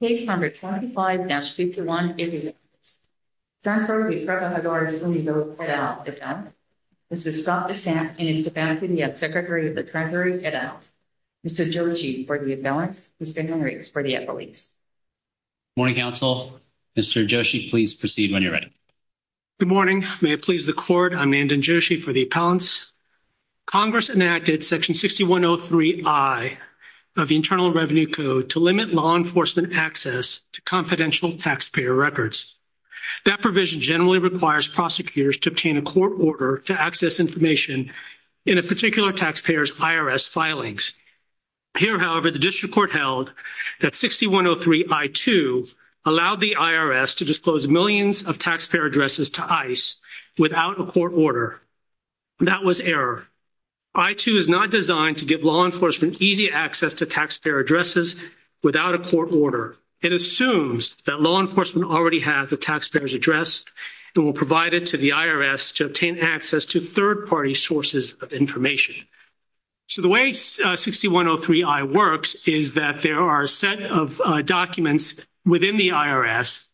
Page number 25-621 is enacted. Stanford de Trabajadores Unidos et al. is up. This is Scott Bessent, and he's the founding deputy secretary of the treasury et al. Mr. Joshi, for the balance. Mr. Henry, for the affiliates. Morning, counsel. Mr. Joshi, please proceed when you're ready. Good morning. May it please the court, I'm Andan Joshi for the accountants. Congress enacted section 6103I of the Internal Revenue Code to limit law enforcement access to confidential taxpayer records. That provision generally requires prosecutors to obtain a court order to access information in a particular taxpayer's IRS filings. Here, however, the district court held that 6103I2 allowed the IRS to disclose millions of taxpayer addresses to ICE without a court order. That was error. I2 is not designed to give law enforcement easy access to taxpayer addresses without a court order. It assumes that law enforcement already has the taxpayer's address and will provide it to the IRS to obtain access to third-party sources of information. So the way 6103I works is that there are a set of documents within the IRS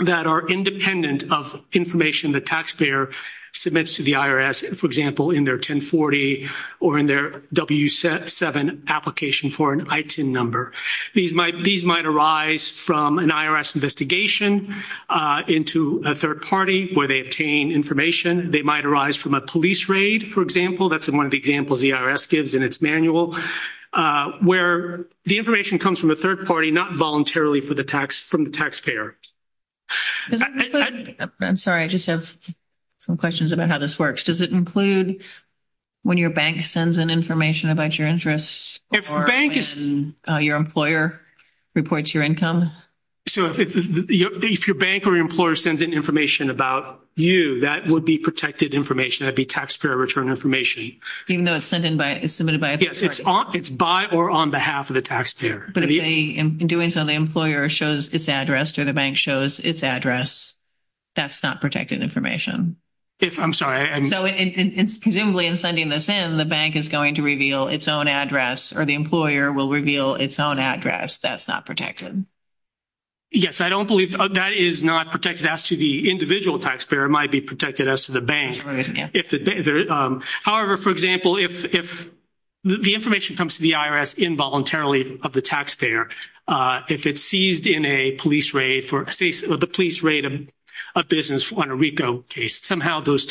that are independent of information the taxpayer submits to the IRS, for example, in their 1040 or in their W7 application for an ITIN number. These might arise from an IRS investigation into a third party where they obtain information. They might arise from a police raid, for example. That's one of the examples the IRS gives in its manual, where the information comes from a third party, not voluntarily from the taxpayer. I'm sorry, I just have some questions about how this works. Does it include when your bank sends in information about your interests? If the bank is... Or when your employer reports your income? So if your bank or employer sends in information about you, that would be protected information. That would be taxpayer-returned information. Even though it's submitted by... Yes, it's by or on behalf of the taxpayer. But if they, in doing so, the employer shows its address or the bank shows its address, that's not protected information? I'm sorry. Presumably, in sending this in, the bank is going to reveal its own address or the employer will reveal its own address. That's not protected. Yes, I don't believe that is not protected as to the individual taxpayer. It might be protected as to the bank. However, for example, if the information comes to the IRS involuntarily of the taxpayer, if it's seized in a police raid of a business on a RICO case, somehow those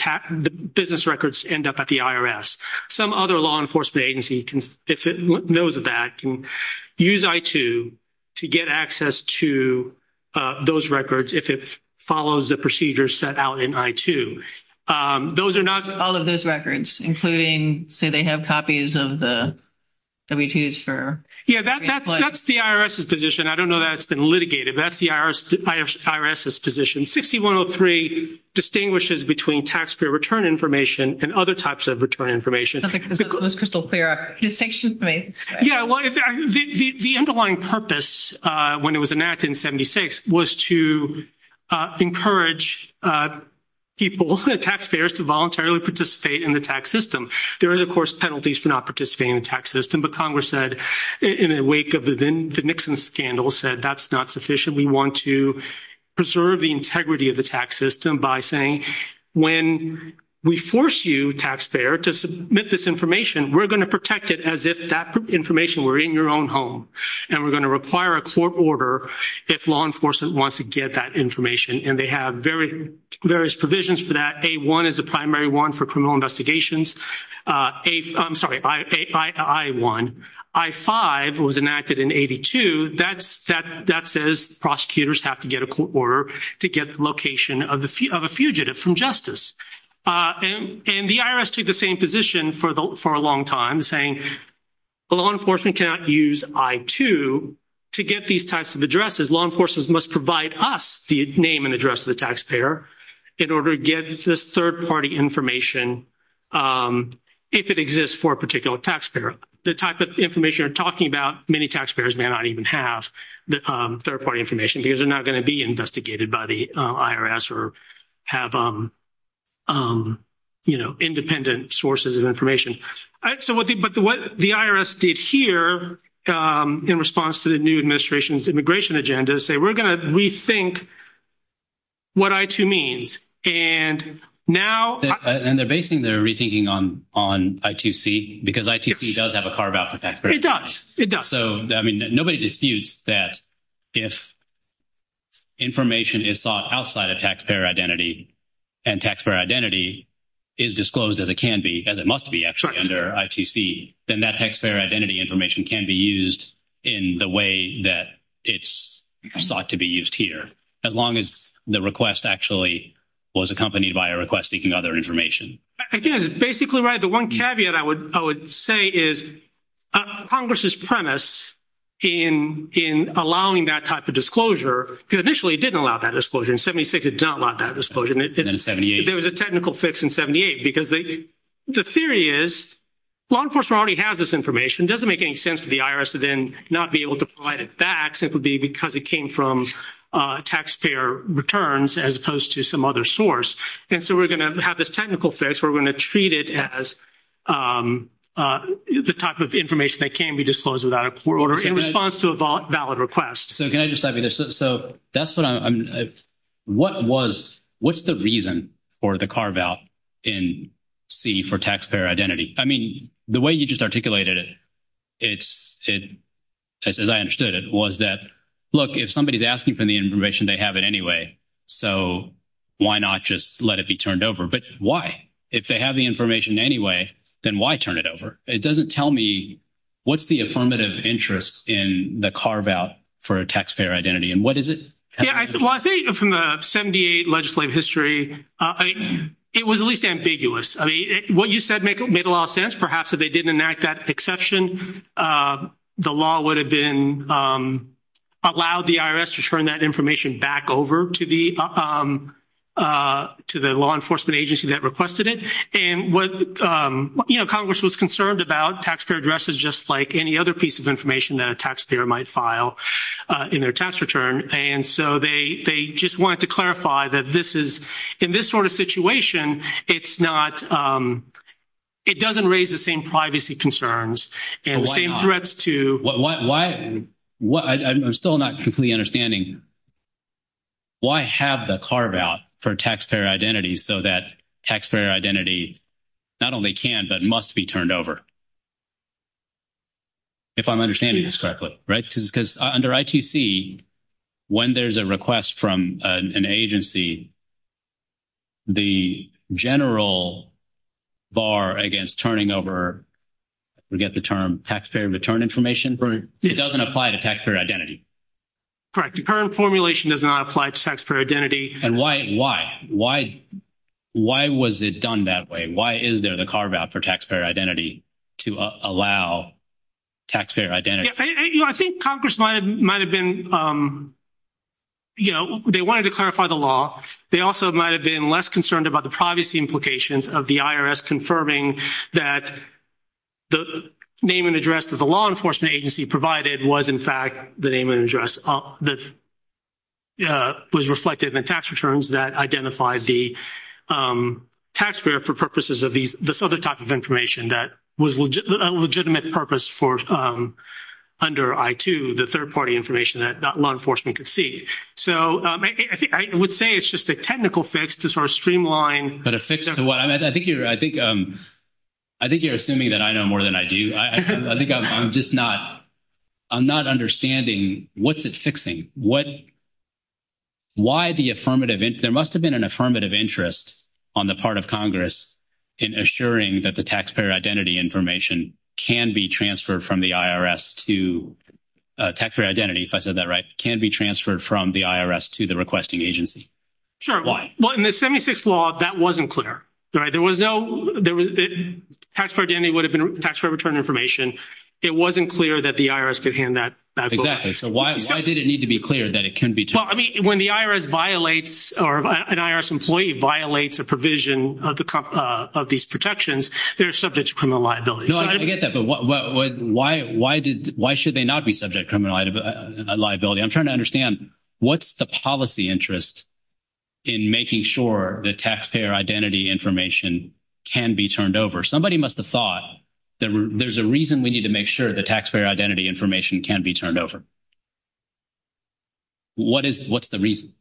business records end up at the IRS. Some other law enforcement agency, if it knows of that, can use I-2 to get access to those records if it follows the procedures set out in I-2. Those are not... All of those records, including, say, they have copies of the W-2s for... Yes, that's the IRS's position. I don't know that it's been litigated. That's the IRS's position. 6103 distinguishes between taxpayer return information and other types of return information. That's crystal clear. Yes, well, the underlying purpose, when it was enacted in 76, was to encourage people, the taxpayers, to voluntarily participate in the tax system. There are, of course, penalties for not participating in the tax system, but Congress said, in the wake of the Nixon scandal, said that's not sufficient. We want to preserve the integrity of the tax system by saying, when we force you, taxpayer, to submit this information, we're going to protect it as if that information were in your own home, and we're going to require a court order if law enforcement wants to get that information. And they have various provisions for that. A-1 is the primary one for criminal investigations. I'm sorry, I-1. I-5 was enacted in 82. That says prosecutors have to get a court order to get the location of a fugitive from justice. And the IRS took the same position for a long time, saying law enforcement cannot use I-2 to get these types of addresses. Law enforcement must provide us the name and address of the taxpayer in order to get this third-party information if it exists for a particular taxpayer. The type of information you're talking about, many taxpayers may not even have third-party information because they're not going to be investigated by the IRS or have, you know, independent sources of information. But what the IRS did here in response to the new administration's immigration agenda is say, we're going to rethink what I-2 means. And now- And they're basing their rethinking on I-2C because I-2C does have a carve-out for taxpayers. It does. It does. So, I mean, nobody disputes that if information is thought outside of taxpayer identity and taxpayer identity is disclosed as it can be, as it must be actually under I-2C, then that taxpayer identity information can be used in the way that it's thought to be used here, as long as the request actually was accompanied by a request seeking other information. Again, it's basically right. The one caveat I would say is Congress's premise in allowing that type of disclosure, because initially it didn't allow that disclosure. In 76, it did not allow that disclosure. In 78. In 78, there was a technical fix in 78 because the theory is law enforcement already has this information. It doesn't make any sense to the IRS to then not be able to provide it back, simply because it came from taxpayer returns as opposed to some other source. And so we're going to have this technical fix. We're going to treat it as the type of information that can be disclosed without a court order in response to a valid request. So can I just add to this? So that's what I'm – what was – what's the reason for the carve-out in C for taxpayer identity? I mean, the way you just articulated it, as I understood it, was that, look, if somebody's asking for the information, they have it anyway, so why not just let it be turned over? But why? If they have the information anyway, then why turn it over? It doesn't tell me what's the affirmative interest in the carve-out for taxpayer identity. And what is it? Well, I think from the 78 legislative history, it was at least ambiguous. I mean, what you said made a lot of sense. Perhaps if they didn't enact that exception, the law would have been – allowed the IRS to turn that information back over to the law enforcement agency that requested it. And what – you know, Congress was concerned about taxpayer addresses just like any other piece of information that a taxpayer might file in their tax return. And so they just wanted to clarify that this is – in this sort of situation, it's not – it doesn't raise the same privacy concerns and the same threats to – not only can, but must be turned over, if I'm understanding this correctly, right? Because under ITC, when there's a request from an agency, the general bar against turning over – I forget the term – taxpayer return information? It doesn't apply to taxpayer identity. Correct. The current formulation does not apply to taxpayer identity. And why? Why? Why was it done that way? Why is there the carve-out for taxpayer identity to allow taxpayer identity? I think Congress might have been – you know, they wanted to clarify the law. They also might have been less concerned about the privacy implications of the IRS confirming that the name and address that the law enforcement agency provided was, in fact, the name and address that was reflected in the tax returns that identified the taxpayer for purposes of these – this other type of information that was a legitimate purpose for – under I-2, the third-party information that law enforcement could see. So I would say it's just a technical fix to sort of streamline. But a fix – I think you're assuming that I know more than I do. I think I'm just not – I'm not understanding what's it fixing. What – why the affirmative – there must have been an affirmative interest on the part of Congress in assuring that the taxpayer identity information can be transferred from the IRS to – taxpayer identity, if I said that right, can be transferred from the IRS to the requesting agency. Sure. Why? Well, in the 76th law, that wasn't clear, right? There was no – taxpayer identity would have been taxpayer return information. It wasn't clear that the IRS could hand that over. Exactly. So why did it need to be clear that it can be transferred? Well, I mean, when the IRS violates or an IRS employee violates a provision of these protections, they're subject to criminal liability. I get that. But why did – why should they not be subject to criminal liability? I'm trying to understand, what's the policy interest in making sure the taxpayer identity information can be turned over? Somebody must have thought there's a reason we need to make sure the taxpayer identity information can be turned over. What is – what's the reason?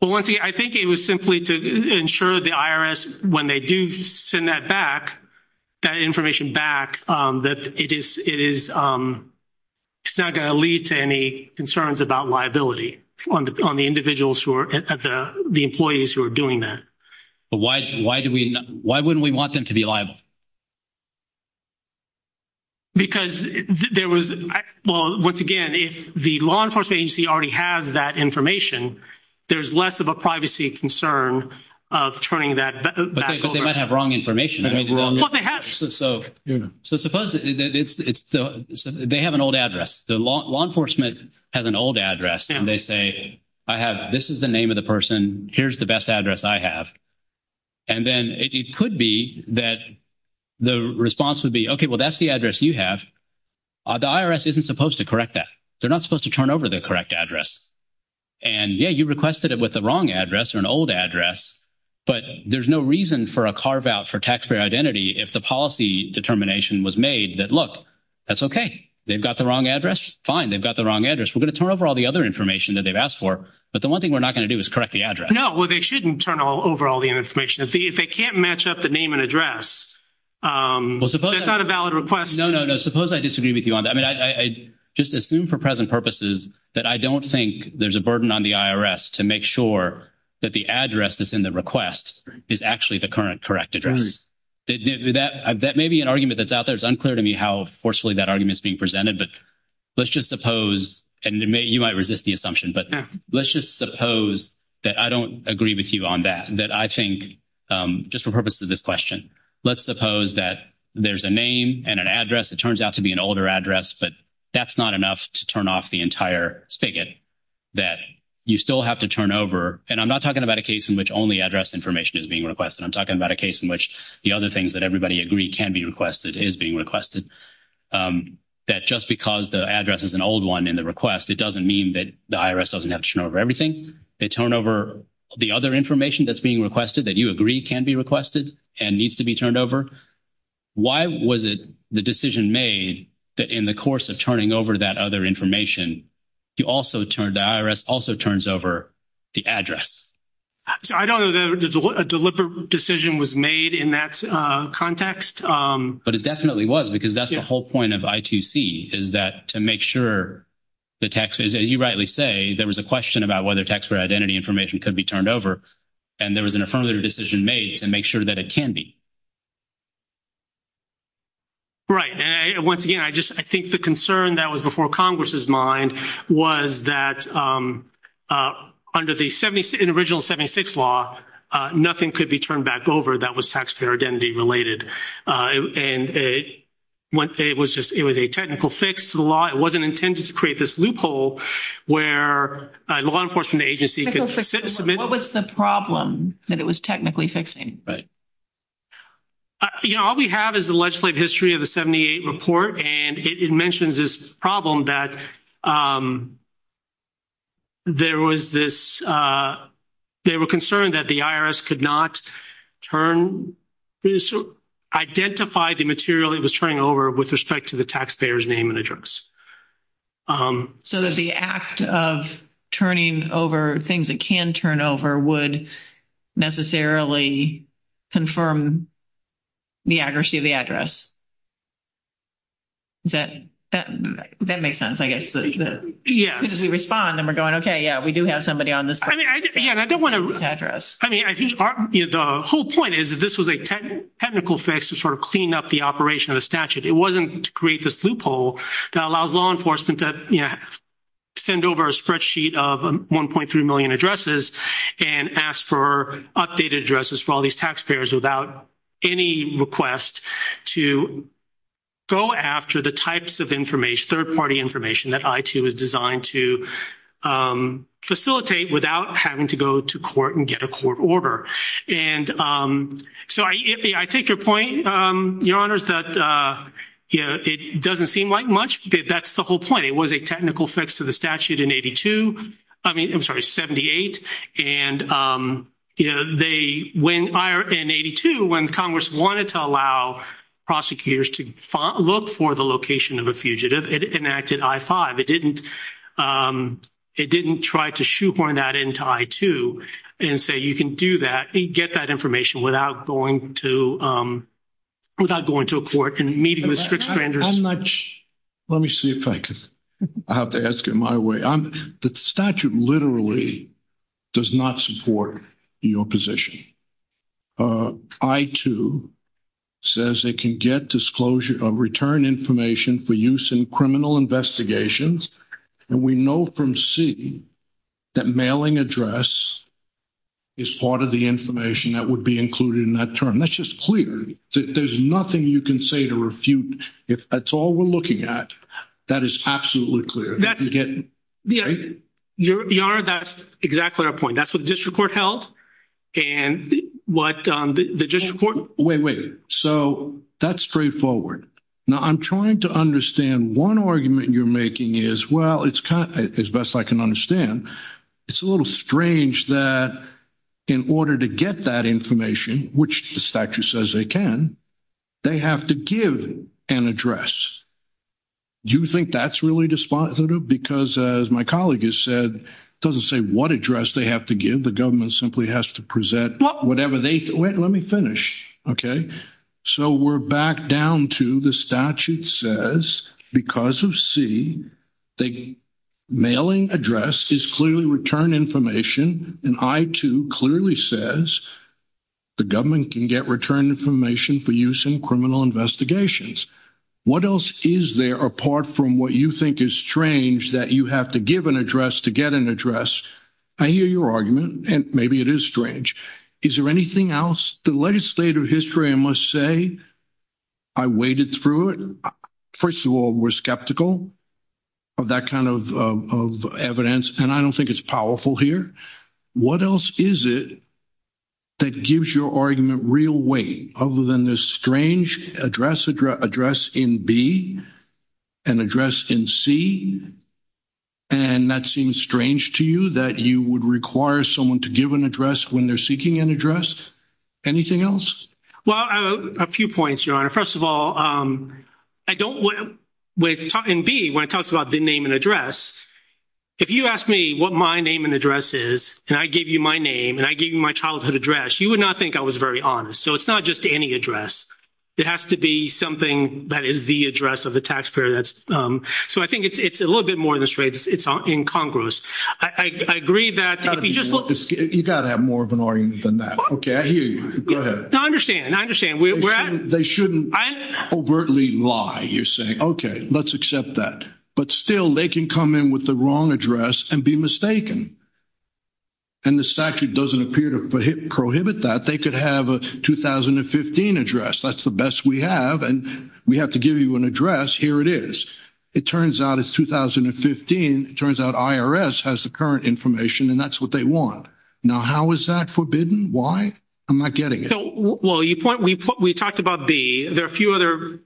Well, I think it was simply to ensure the IRS, when they do send that back, that information back, that it is – it's not going to lead to any concerns about liability on the individuals who are – the employees who are doing that. Why do we – why wouldn't we want them to be liable? Because there was – well, once again, if the law enforcement agency already has that information, there's less of a privacy concern of turning that back over. But they might have wrong information. Well, they have. So suppose it's – they have an old address. The law enforcement has an old address. And they say, I have – this is the name of the person. Here's the best address I have. And then it could be that the response would be, okay, well, that's the address you have. The IRS isn't supposed to correct that. They're not supposed to turn over the correct address. And, yeah, you requested it with the wrong address or an old address, but there's no reason for a carve-out for taxpayer identity if the policy determination was made that, look, that's okay. They've got the wrong address. Fine. They've got the wrong address. We're going to turn over all the other information that they've asked for, but the one thing we're not going to do is correct the address. No, well, they shouldn't turn over all the information. If they can't match up the name and address, it's not a valid request. No, no, no. Suppose I disagree with you on that. I mean, I just assume for present purposes that I don't think there's a burden on the IRS to make sure that the address that's in the request is actually the current correct address. That may be an argument that's out there. It's unclear to me how forcefully that argument is being presented. But let's just suppose, and you might resist the assumption, but let's just suppose that I don't agree with you on that. That I think, just for purposes of this question, let's suppose that there's a name and an address that turns out to be an older address, but that's not enough to turn off the entire spigot that you still have to turn over. And I'm not talking about a case in which only address information is being requested. I'm talking about a case in which the other things that everybody agreed can be requested is being requested. That just because the address is an old one in the request, it doesn't mean that the IRS doesn't have to turn over everything. They turn over the other information that's being requested that you agree can be requested and needs to be turned over. Why was it the decision made that in the course of turning over that other information, the IRS also turns over the address? I don't know that a deliberate decision was made in that context. But it definitely was, because that's the whole point of I2C, is that to make sure the taxpayer, as you rightly say, there was a question about whether taxpayer identity information could be turned over. And there was a further decision made to make sure that it can be. Right. I think the concern that was before Congress's mind was that under the original 76 law, nothing could be turned back over that was taxpayer identity related. It was a technical fix to the law. It wasn't intended to create this loophole where law enforcement agency could submit. What was the problem that it was technically fixing? You know, all we have is the legislative history of the 78 report. And it mentions this problem that there was this – they were concerned that the IRS could not turn – identify the material it was turning over with respect to the taxpayer's name and address. So that the act of turning over things that can turn over would necessarily confirm the accuracy of the address? That makes sense, I guess. Yeah. Because we respond and we're going, okay, yeah, we do have somebody on this – I mean, I don't want to – Address. I mean, the whole point is that this was a technical fix to sort of clean up the operation of the statute. It wasn't to create this loophole that allows law enforcement to, you know, send over a spreadsheet of 1.3 million addresses and ask for updated addresses for all these taxpayers without any request to go after the types of information, third-party information that IT was designed to facilitate without having to go to court and get a court order. And so I take your point, Your Honors, that, you know, it doesn't seem like much, but that's the whole point. It was a technical fix to the statute in 82 – I mean, I'm sorry, 78. And, you know, they – in 82, when Congress wanted to allow prosecutors to look for the location of a fugitive, it enacted I-5. It didn't – it didn't try to shoehorn that into I-2 and say you can do that and get that information without going to – without going to a court and meeting with scripts vendors. I'm not – let me see if I can – I'll have to ask it my way. The statute literally does not support your position. I-2 says they can get disclosure – return information for use in criminal investigations. And we know from C that mailing address is part of the information that would be included in that term. That's just clear. There's nothing you can say to refute. If that's all we're looking at, that is absolutely clear. Your Honor, that's exactly our point. That's what the district court held and what the district court – Wait, wait. So that's straightforward. Now, I'm trying to understand one argument you're making is, well, it's – as best I can understand, it's a little strange that in order to get that information, which the statute says they can, they have to give an address. Do you think that's really dispositive? Because as my colleague has said, it doesn't say what address they have to give. The government simply has to present whatever they – wait, let me finish. Okay? So we're back down to the statute says because of C, the mailing address is clearly return information. And I-2 clearly says the government can get return information for use in criminal investigations. What else is there apart from what you think is strange that you have to give an address to get an address? I hear your argument, and maybe it is strange. Is there anything else? The legislative history, I must say, I waded through it. First of all, we're skeptical of that kind of evidence, and I don't think it's powerful here. What else is it that gives your argument real weight other than this strange address in B and address in C? And that seems strange to you, that you would require someone to give an address when they're seeking an address? Anything else? Well, a few points, Your Honor. First of all, I don't – in B, when it talks about the name and address, if you ask me what my name and address is, and I give you my name, and I give you my childhood address, you would not think I was very honest. So it's not just any address. It has to be something that is the address of the taxpayer. So I think it's a little bit more than strange. It's incongruous. I agree that if you just look- You've got to have more of an argument than that. Okay, I hear you. Go ahead. No, I understand. I understand. They shouldn't overtly lie. You're saying, okay, let's accept that. But still, they can come in with the wrong address and be mistaken. And the statute doesn't appear to prohibit that. They could have a 2015 address. That's the best we have, and we have to give you an address. Here it is. It turns out it's 2015. It turns out IRS has the current information, and that's what they want. Now, how is that forbidden? Why? I'm not getting it. Well, we talked about B. There are a few other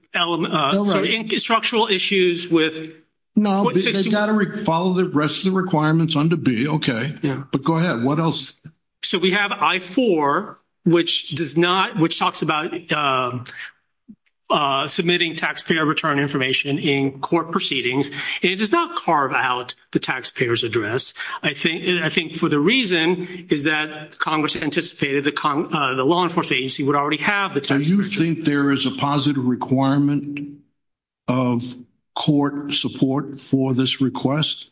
structural issues with- No, they've got to follow the rest of the requirements under B. Okay. But go ahead. What else? So we have I-4, which talks about submitting taxpayer return information in court proceedings. It does not carve out the taxpayer's address. I think for the reason is that Congress anticipated the law enforcement agency would already have- So you think there is a positive requirement of court support for this request?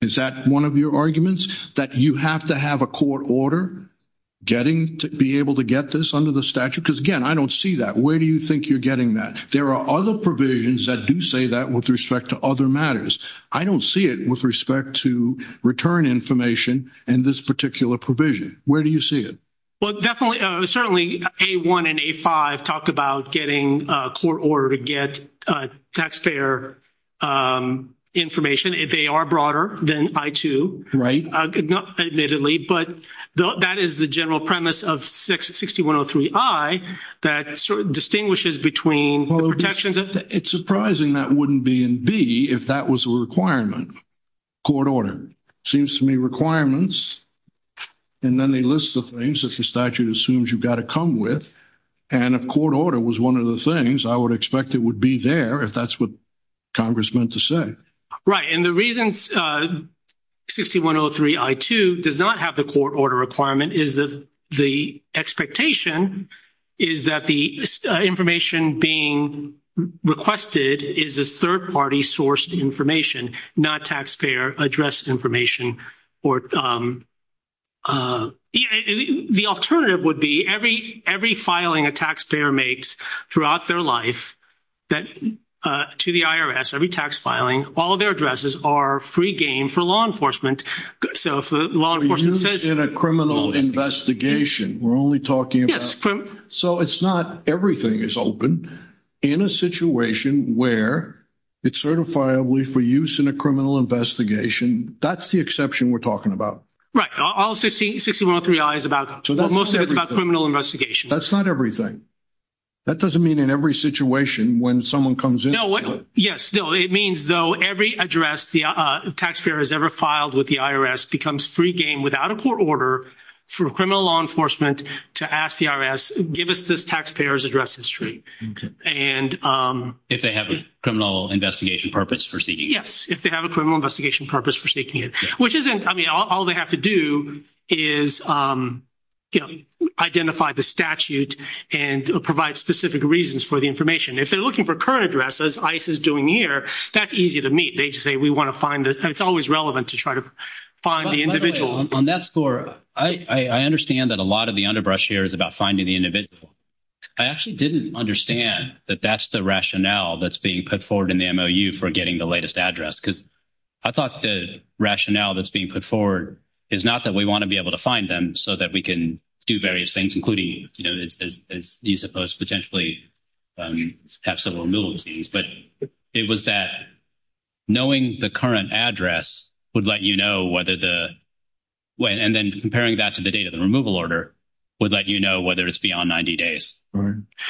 Is that one of your arguments, that you have to have a court order getting to be able to get this under the statute? Because, again, I don't see that. Where do you think you're getting that? There are other provisions that do say that with respect to other matters. I don't see it with respect to return information in this particular provision. Where do you see it? Well, certainly A-1 and A-5 talk about getting a court order to get taxpayer information. They are broader than I-2. Right. Admittedly. But that is the general premise of 6103I that sort of distinguishes between the protections- It's surprising that wouldn't be in B if that was a requirement. Court order. Seems to me requirements, and then they list the things that the statute assumes you've got to come with. And if court order was one of the things, I would expect it would be there if that's what Congress meant to say. Right. And the reason 6103I-2 does not have the court order requirement is that the expectation is that the information being requested is a third-party sourced information, not taxpayer-addressed information. The alternative would be every filing a taxpayer makes throughout their life to the IRS, every tax filing, all of their addresses are free gain for law enforcement. So if the law enforcement says- For use in a criminal investigation. We're only talking about- Yes. So it's not everything is open in a situation where it's certifiably for use in a criminal investigation. That's the exception we're talking about. Right. All 6103I is about- Most of it is about criminal investigation. That's not everything. That doesn't mean in every situation when someone comes in- No. Yes. No. It means though every address the taxpayer has ever filed with the IRS becomes free gain without a court order for criminal law enforcement to ask the IRS, give us this taxpayer's address history. Okay. And- If they have a criminal investigation purpose for seeking it. Yes. If they have a criminal investigation purpose for seeking it, which isn't-I mean, all they have to do is, you know, identify the statute and provide specific reasons for the information. If they're looking for current addresses, as ICE is doing here, that's easy to meet. They just say, we want to find this. It's always relevant to try to find the individual. On that score, I understand that a lot of the underbrush here is about finding the individual. I actually didn't understand that that's the rationale that's being put forward in the MOU for getting the latest address because I thought the rationale that's being put forward is not that we want to be able to find them so that we can do various things, including, you know, as you suppose potentially have several rules, but it was that knowing the current address would let you know whether the-and then comparing that to the date of the removal order would let you know whether it's beyond 90 days.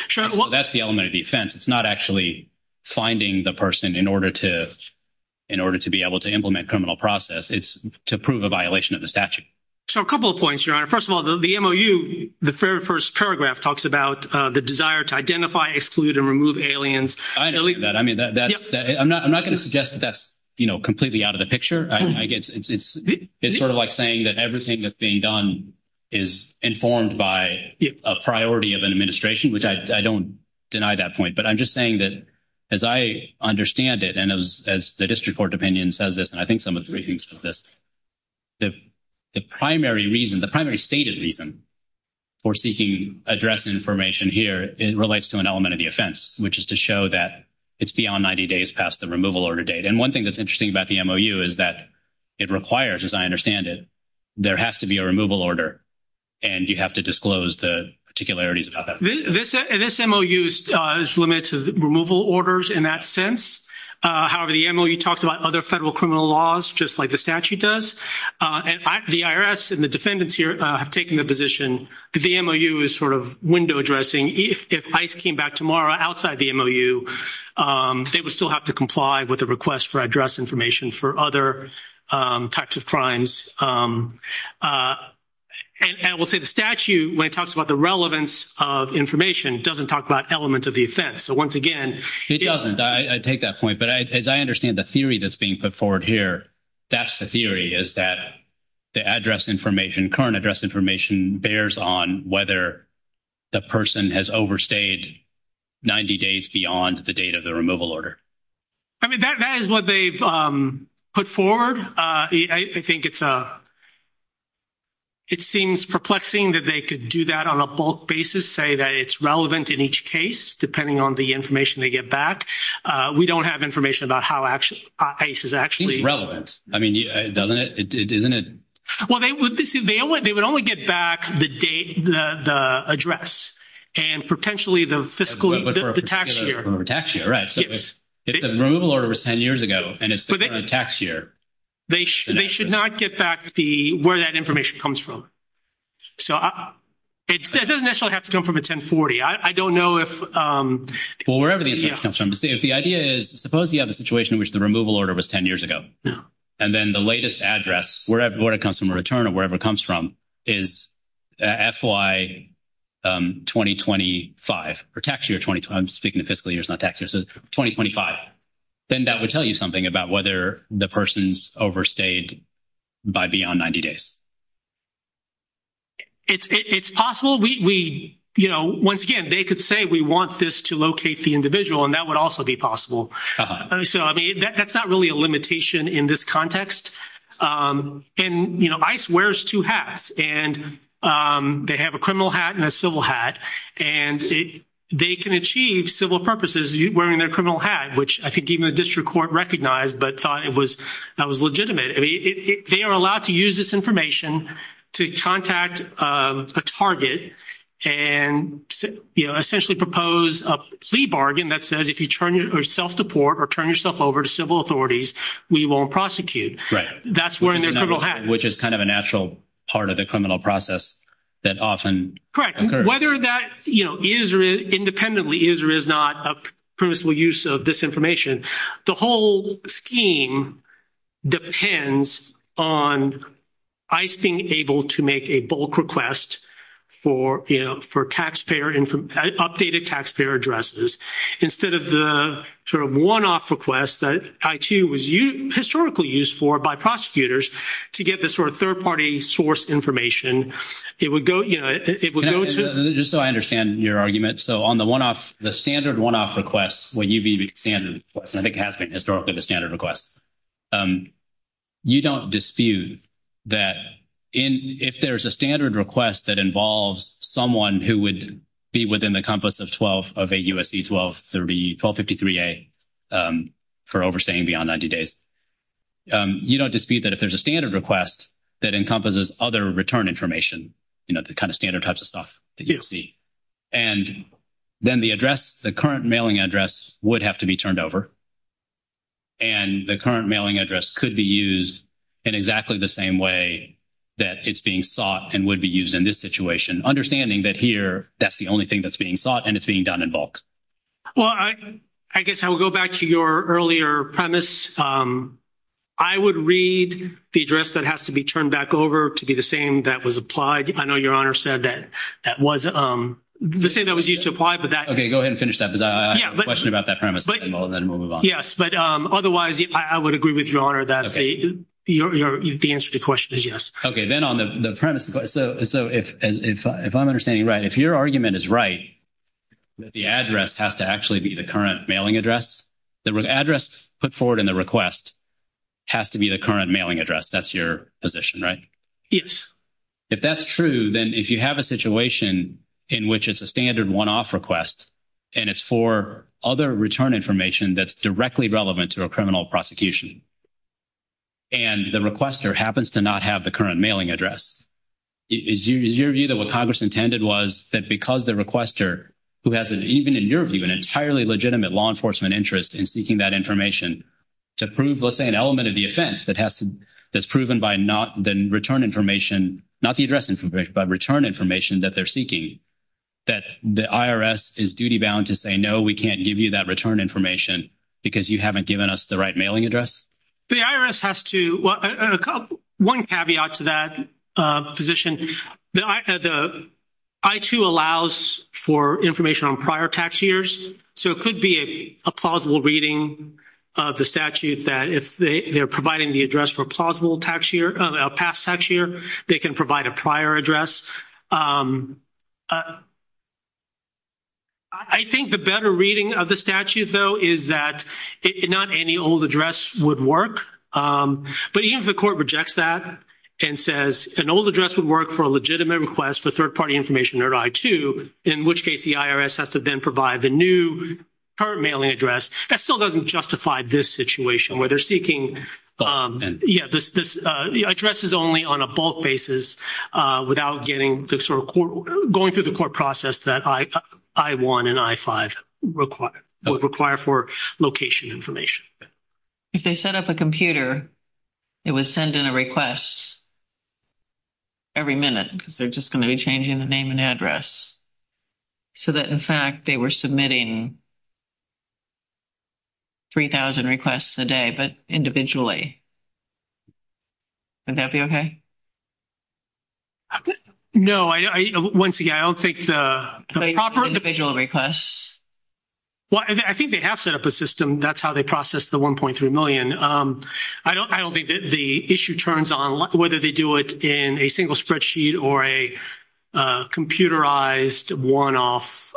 So that's the element of defense. It's not actually finding the person in order to be able to implement criminal process. It's to prove a violation of the statute. So a couple of points, Your Honor. First of all, the MOU, the very first paragraph talks about the desire to identify, exclude, and remove aliens. I agree with that. I mean, that's-I'm not going to suggest that that's, you know, completely out of the picture. I guess it's sort of like saying that everything that's being done is informed by a priority of an administration, which I don't deny that point. But I'm just saying that as I understand it, and as the district court opinion says this, and I think some of the readings for this, the primary reason, the primary statement even for seeking address information here, it relates to an element of the offense, which is to show that it's beyond 90 days past the removal order date. And one thing that's interesting about the MOU is that it requires, as I understand it, there has to be a removal order, and you have to disclose the particularities about that. This MOU is limited to removal orders in that sense. However, the MOU talks about other federal criminal laws, just like the statute does. And the IRS and the defendants here have taken the position that the MOU is sort of window dressing. If ICE came back tomorrow outside the MOU, they would still have to comply with the request for address information for other types of crimes. And we'll say the statute, when it talks about the relevance of information, doesn't talk about elements of the offense. So, once again— It doesn't. I take that point. But as I understand the theory that's being put forward here, that's the theory, is that the address information, current address information, bears on whether the person has overstayed 90 days beyond the date of the removal order. I mean, that is what they've put forward. I think it's a—it seems perplexing that they could do that on a bulk basis, say that it's relevant in each case, depending on the information they get back. We don't have information about how ICE is actually— I mean, doesn't it—isn't it— Well, they would—they would only get back the date, the address, and potentially the fiscal—the tax year. The tax year, right. If the removal order was 10 years ago and it's still in the tax year— They should not get back the—where that information comes from. So, it doesn't necessarily have to come from a 1040. I don't know if— Well, wherever the information comes from. The idea is, suppose you have a situation in which the removal order was 10 years ago. Yeah. And then the latest address, wherever it comes from, a return or wherever it comes from, is FY 2025, or tax year 2025. I'm speaking of fiscal year, it's not tax year. So, 2025. Then that would tell you something about whether the person's overstayed by beyond 90 days. It's possible. We, you know, once again, they could say we want this to locate the individual, and that would also be possible. So, I mean, that's not really a limitation in this context. And, you know, ICE wears two hats, and they have a criminal hat and a civil hat, and they can achieve civil purposes wearing their criminal hat, which I think even the district court recognized but thought it was—that was legitimate. I mean, they are allowed to use this information to contact a target and, you know, essentially propose a plea bargain that says if you turn yourself to court or turn yourself over to civil authorities, we won't prosecute. That's wearing their criminal hat. Which is kind of a natural part of the criminal process that often occurs. Whether that, you know, is or is—independently is or is not a permissible use of this information, the whole scheme depends on ICE being able to make a bulk request for, you know, for taxpayer—updated taxpayer addresses. Instead of the sort of one-off request that ICE was historically used for by prosecutors to get this sort of third-party source information, it would go—you know, it would go to— I think it has been historically the standard request. You don't dispute that in—if there's a standard request that involves someone who would be within the compass of 12—of a U.S.C. 1233—1253A for overstaying beyond 90 days, you don't dispute that if there's a standard request that encompasses other return information, you know, the kind of standard types of stuff, and then the address—the current mailing address would have to be turned over, and the current mailing address could be used in exactly the same way that it's being sought and would be used in this situation, understanding that here that's the only thing that's being sought and it's being done in bulk. Well, I guess I will go back to your earlier premise. I would read the address that has to be turned back over to be the same that was applied. I know Your Honor said that that was the same that was used to apply, but that— Okay. Go ahead and finish that, because I have a question about that premise, and then we'll move on. Yes. But otherwise, I would agree with Your Honor that the answer to the question is yes. Okay. Then on the premise—so if I'm understanding right, if your argument is right, that the address has to actually be the current mailing address, the address put forward in the request has to be the current mailing address. That's your position, right? Yes. If that's true, then if you have a situation in which it's a standard one-off request, and it's for other return information that's directly relevant to a criminal prosecution, and the requester happens to not have the current mailing address, is your view that what Congress intended was that because the requester, who has an—even in your view—an entirely legitimate law enforcement interest in seeking that information to prove, let's say, an element of the offense that has to—that's proven by not the return information— not the address information, but return information that they're seeking, that the IRS is duty-bound to say, no, we can't give you that return information because you haven't given us the right mailing address? The IRS has to—one caveat to that position. The I-2 allows for information on prior tax years, so it could be a plausible reading of the statute that if they're providing the address for a plausible tax year, a past tax year, they can provide a prior address. I think the better reading of the statute, though, is that not any old address would work. But even if the court rejects that and says an old address would work for a legitimate request for third-party information at I-2, in which case the IRS has to then provide the new current mailing address, that still doesn't justify this situation where they're seeking— the address is only on a bulk basis without going through the court process that I-1 and I-5 require for location information. If they set up a computer, it would send in a request every minute because they're just going to be changing the name and address, so that, in fact, they were submitting 3,000 requests a day, but individually. Would that be okay? No, once again, I don't think the proper— Individual requests? Well, I think they have set up a system. That's how they process the $1.3 million. I don't think that the issue turns on whether they do it in a single spreadsheet or a computerized, worn-off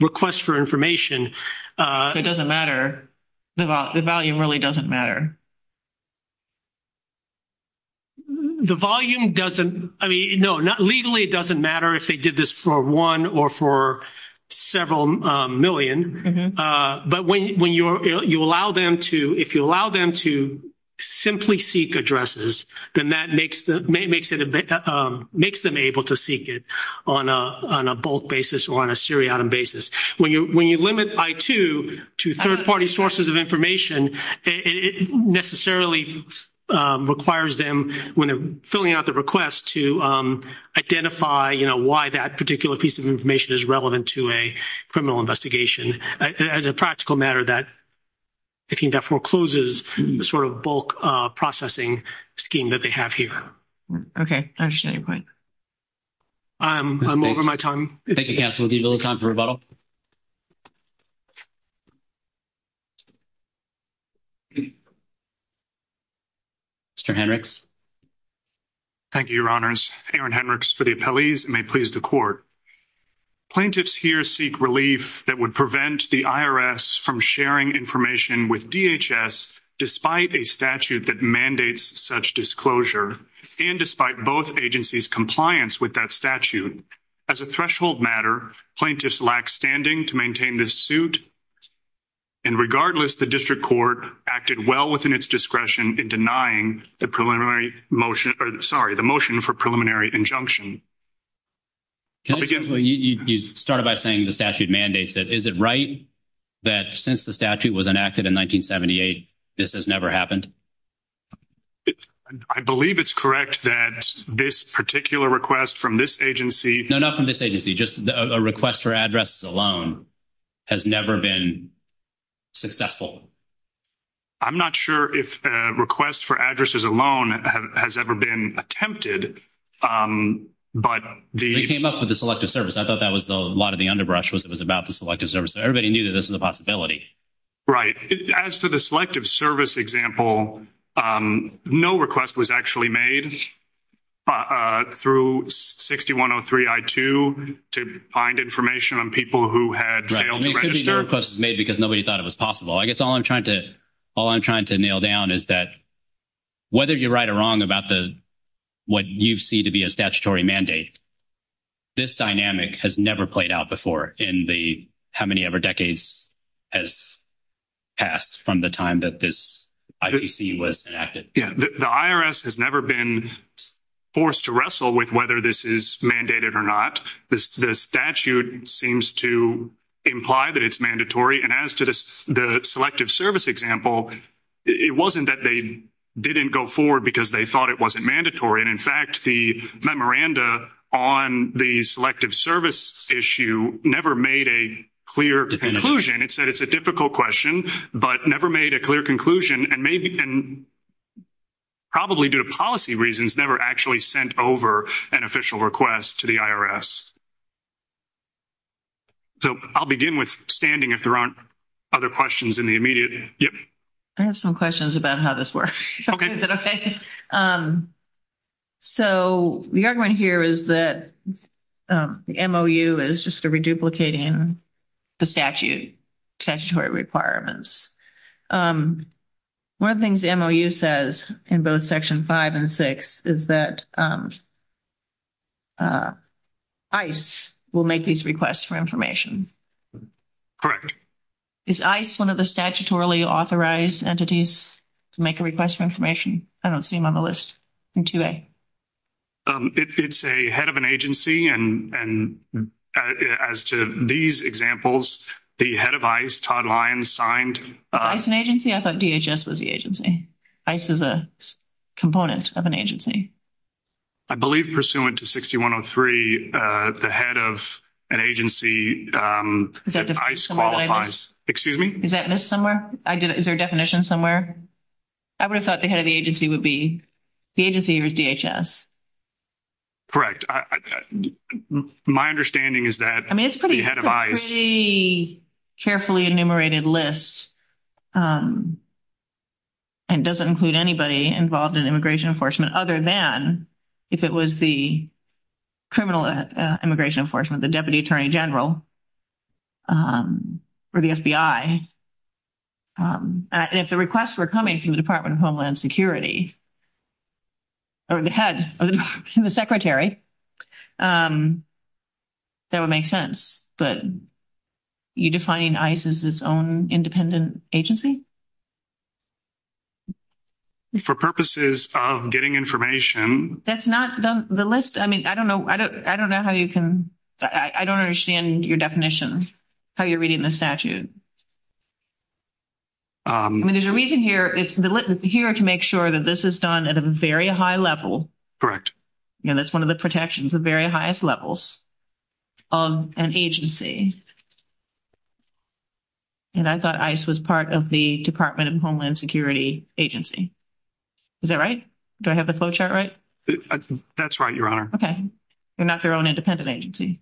request for information. It doesn't matter. The volume really doesn't matter. The volume doesn't—I mean, no, legally it doesn't matter if they did this for one or for several million. But when you allow them to—if you allow them to simply seek addresses, then that makes them able to seek it on a bulk basis or on a seriatim basis. When you limit I-2 to third-party sources of information, it necessarily requires them, when filling out the request, to identify, you know, why that particular piece of information is relevant to a criminal investigation. As a practical matter, that, I think, that forecloses the sort of bulk processing scheme that they have here. Okay. I understand your point. I'm over my time. Thank you, Cassidy. We'll give a little time for rebuttal. Mr. Hendricks? Thank you, Your Honors. Aaron Hendricks for the appellees, and may it please the Court. Plaintiffs here seek relief that would prevent the IRS from sharing information with DHS despite a statute that mandates such disclosure and despite both agencies' compliance with that statute. As a threshold matter, plaintiffs lack standing to maintain this suit. And regardless, the District Court acted well within its discretion in denying the motion for preliminary injunction. You started by saying the statute mandates it. Is it right that since the statute was enacted in 1978, this has never happened? I believe it's correct that this particular request from this agency— —has never been successful. I'm not sure if a request for addresses alone has ever been attempted, but the— They came up with the Selective Service. I thought that was a lot of the underbrush was it was about the Selective Service. Everybody knew that this was a possibility. Right. As to the Selective Service example, no request was actually made through 6103-I-2 to find information on people who had failed to register. Right. And it could be no request was made because nobody thought it was possible. I guess all I'm trying to nail down is that whether you're right or wrong about what you see to be a statutory mandate, this dynamic has never played out before in how many ever decades has passed from the time that this IPC was enacted. The IRS has never been forced to wrestle with whether this is mandated or not. The statute seems to imply that it's mandatory. And as to the Selective Service example, it wasn't that they didn't go forward because they thought it wasn't mandatory. And in fact, the memoranda on the Selective Service issue never made a clear conclusion. It said it's a difficult question, but never made a clear conclusion. And probably due to policy reasons, never actually sent over an official request to the IRS. So I'll begin with standing if there aren't other questions in the immediate. I have some questions about how this works. Okay. Is it okay? So the argument here is that the MOU is just a reduplicating the statute, statutory requirements. One of the things the MOU says in both Section 5 and 6 is that ICE will make these requests for information. Correct. Correct. Is ICE one of the statutorily authorized entities to make a request for information? I don't see them on the list in 2A. It's a head of an agency. And as to these examples, the head of ICE, Todd Lyons, signed. ICE is an agency? I thought DHS was the agency. ICE is a component of an agency. I believe pursuant to 6103, the head of an agency at ICE qualifies. Excuse me? Is that missed somewhere? Is there a definition somewhere? I would have thought the head of the agency would be the agency or DHS. Correct. My understanding is that the head of ICE. I mean, it's a pretty carefully enumerated list. And it doesn't include anybody involved in immigration enforcement other than if it was the criminal immigration enforcement, the deputy attorney general, or the FBI. And if the requests were coming from the Department of Homeland Security, or the head, or the secretary, that would make sense. But you're defining ICE as its own independent agency? For purposes of getting information. That's not the list. I mean, I don't know how you can. I don't understand your definition, how you're reading the statute. I mean, there's a reason here. It's here to make sure that this is done at a very high level. Correct. You know, that's one of the protections, the very highest levels of an agency. And I thought ICE was part of the Department of Homeland Security agency. Is that right? Do I have the flowchart right? That's right, Your Honor. Okay. They're not their own independent agency.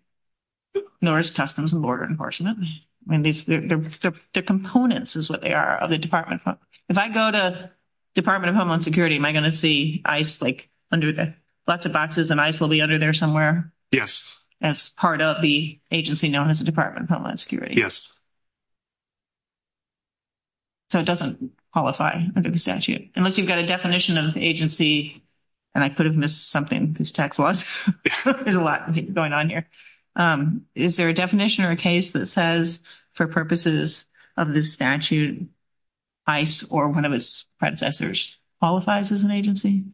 Nor is Customs and Border Enforcement. The components is what they are of the department. If I go to Department of Homeland Security, am I going to see ICE, like, under lots of boxes, and ICE will be under there somewhere? Yes. As part of the agency known as the Department of Homeland Security. Yes. So it doesn't qualify under the statute. Unless you've got a definition of agency, and I could have missed something. There's a lot going on here. Is there a definition or a case that says, for purposes of the statute, ICE or one of its predecessors qualifies as an agency?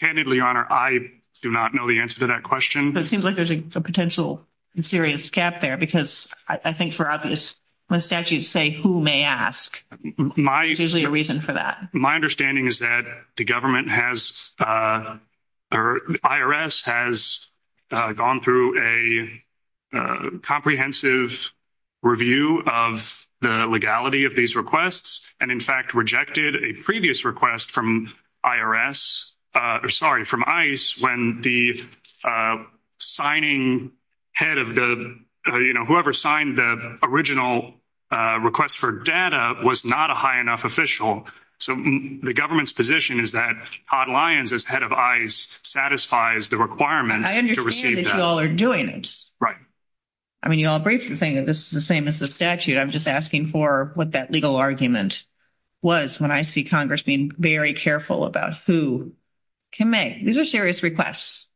Candidly, Your Honor, I do not know the answer to that question. But it seems like there's a potential and serious gap there. Because I think for obvious, when statutes say who may ask, there's usually a reason for that. My understanding is that the IRS has gone through a comprehensive review of the legality of these requests. And, in fact, rejected a previous request from ICE when the signing head of the, you know, whoever signed the original request for data was not a high enough official. So the government's position is that Todd Lyons, as head of ICE, satisfies the requirement to receive that. I understand that you all are doing it. Right. I mean, you all are briefly saying that this is the same as the statute. I'm just asking for what that legal argument was when I see Congress being very careful about who can make. These are serious requests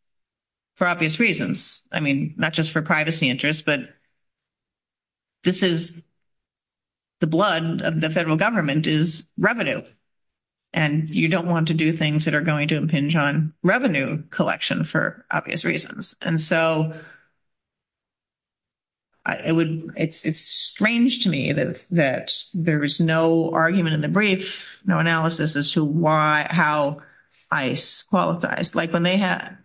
for obvious reasons. I mean, not just for privacy interests, but this is the blood of the federal government is revenue. And you don't want to do things that are going to impinge on revenue collection for obvious reasons. And so it's strange to me that there is no argument in the brief, no analysis as to how ICE qualifies. Like, when they have,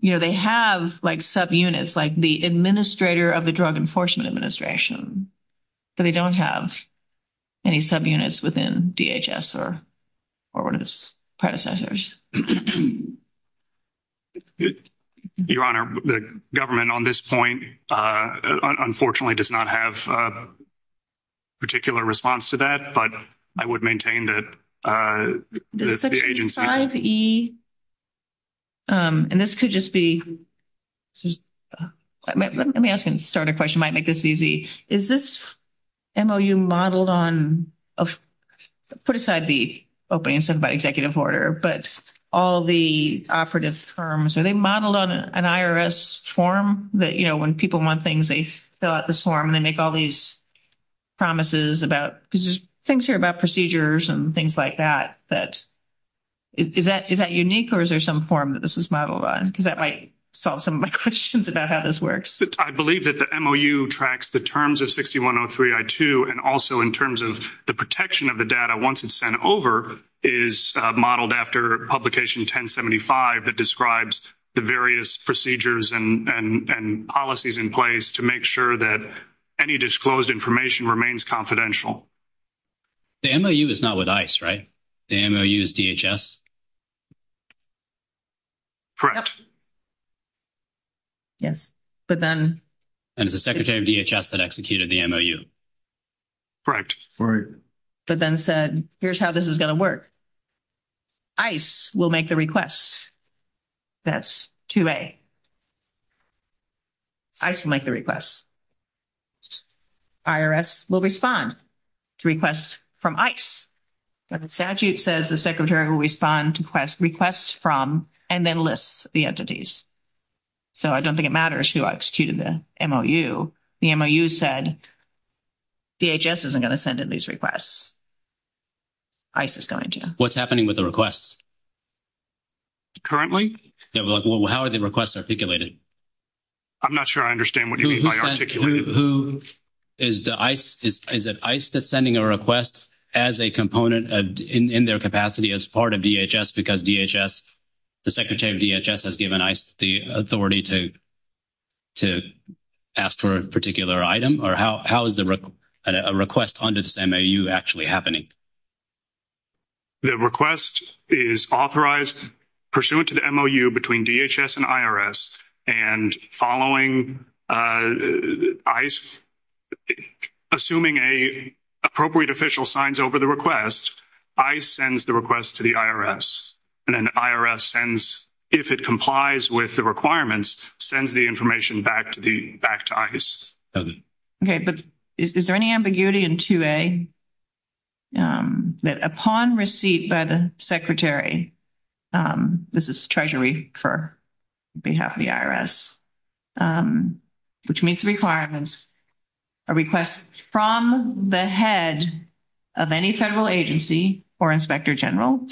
you know, they have, like, subunits, like the administrator of the Drug Enforcement Administration. But they don't have any subunits within DHS or one of its predecessors. Your Honor, the government on this point, unfortunately, does not have a particular response to that. But I would maintain that the agency. Section 5E, and this could just be, let me ask a starter question, might make this easy. Is this MOU modeled on, put aside the opening sent by executive order, but all the operative terms. Are they modeled on an IRS form that, you know, when people want things, they fill out this form. They make all these promises about, things here about procedures and things like that. Is that unique or is there some form that this is modeled on? Because that might solve some of my questions about how this works. I believe that the MOU tracks the terms of 6103I2. And also in terms of the protection of the data once it's sent over is modeled after publication 1075. It describes the various procedures and policies in place to make sure that any disclosed information remains confidential. The MOU is not with ICE, right? The MOU is DHS? Correct. Yes. But then. And it's the secretary of DHS that executed the MOU. Correct. But then said, here's how this is going to work. ICE will make the request. That's 2A. ICE will make the request. IRS will respond to requests from ICE. The statute says the secretary will respond to requests from and then list the entities. So I don't think it matters who executed the MOU. The MOU said DHS isn't going to send in these requests. ICE is going to. What's happening with the requests? Currently? How are the requests articulated? I'm not sure I understand what you mean by articulated. Is it ICE that's sending a request as a component in their capacity as part of DHS? Because DHS, the secretary of DHS has given ICE the authority to ask for a particular item? Or how is a request under this MOU actually happening? The request is authorized pursuant to the MOU between DHS and IRS. And following ICE, assuming an appropriate official signs over the request, ICE sends the request to the IRS. And then the IRS sends, if it complies with the requirements, sends the information back to ICE. Okay. But is there any ambiguity in 2A that upon receipt by the secretary, this is Treasury for behalf of the IRS, which meets the requirements, a request from the head of any federal agency or inspector general,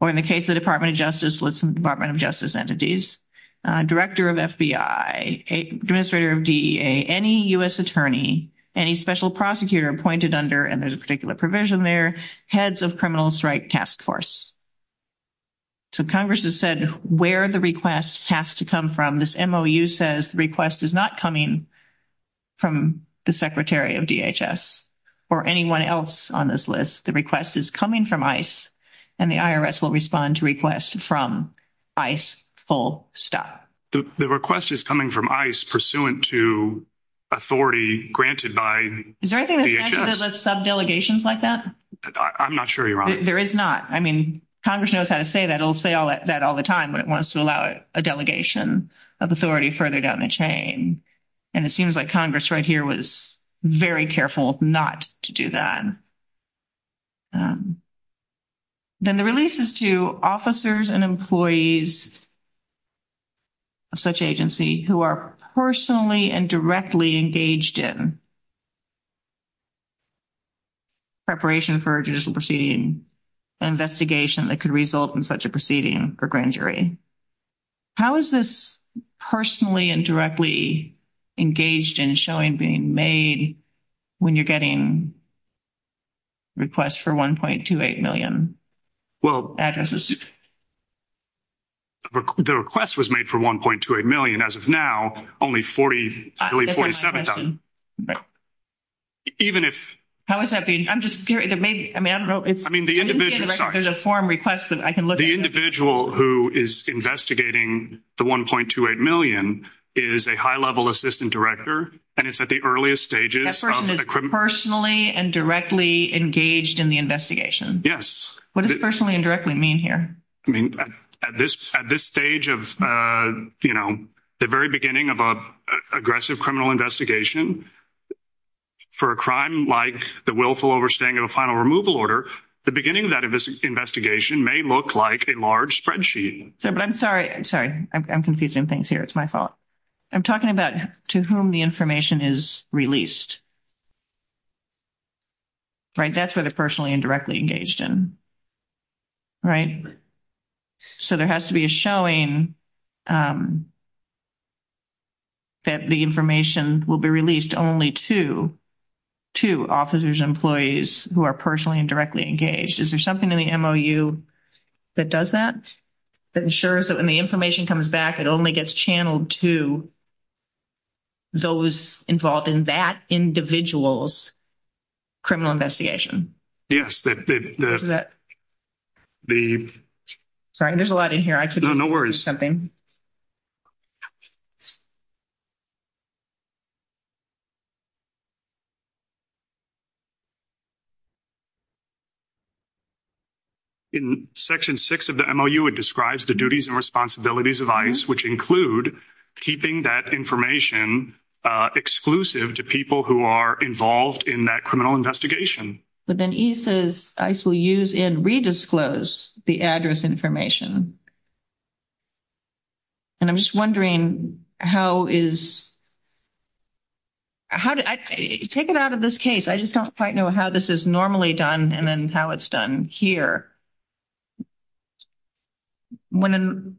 or in the case of the Department of Justice, let's say the Department of Justice entities, director of FBI, administrator of DEA, any U.S. attorney, any special prosecutor appointed under, and there's a particular provision there, heads of criminal strike task force. So Congress has said where the request has to come from. This MOU says the request is not coming from the secretary of DHS or anyone else on this list. The request is coming from ICE, and the IRS will respond to requests from ICE full stop. The request is coming from ICE pursuant to authority granted by DHS? Is there anything that says that there's sub-delegations like that? I'm not sure you're on it. There is not. I mean, Congress knows how to say that. It'll say that all the time when it wants to allow a delegation of authority further down the chain. And it seems like Congress right here was very careful not to do that. Then the release is to officers and employees of such agency who are personally and directly engaged in preparation for a judicial proceeding, an investigation that could result in such a proceeding or grand jury. How is this personally and directly engaged in showing being made when you're getting requests for 1.28 million addresses? The request was made for 1.28 million. As of now, only 47,000. How is that being? I'm just curious. I mean, I don't know. There's a form request that I can look at. The individual who is investigating the 1.28 million is a high-level assistant director, and it's at the earliest stages. That person is personally and directly engaged in the investigation. Yes. What does personally and directly mean here? I mean, at this stage of, you know, the very beginning of an aggressive criminal investigation, for a crime like the willful overstaying of a final removal order, the beginning of that investigation may look like a large spreadsheet. But I'm sorry. I'm sorry. I'm confusing things here. It's my fault. I'm talking about to whom the information is released, right? That's what it's personally and directly engaged in, right? So there has to be a showing that the information will be released only to officers and employees who are personally and directly engaged. Is there something in the MOU that does that, that ensures that when the information comes back, it only gets channeled to those involved in that individual's criminal investigation? Yes. The... Sorry. There's a lot in here. I took away something. In Section 6 of the MOU, it describes the duties and responsibilities of ICE, which include keeping that information exclusive to people who are involved in that criminal investigation. But then he says ICE will use and redisclose the address information. And I'm just wondering how is... Take it out of this case. I just don't quite know how this is normally done and then how it's done here. Before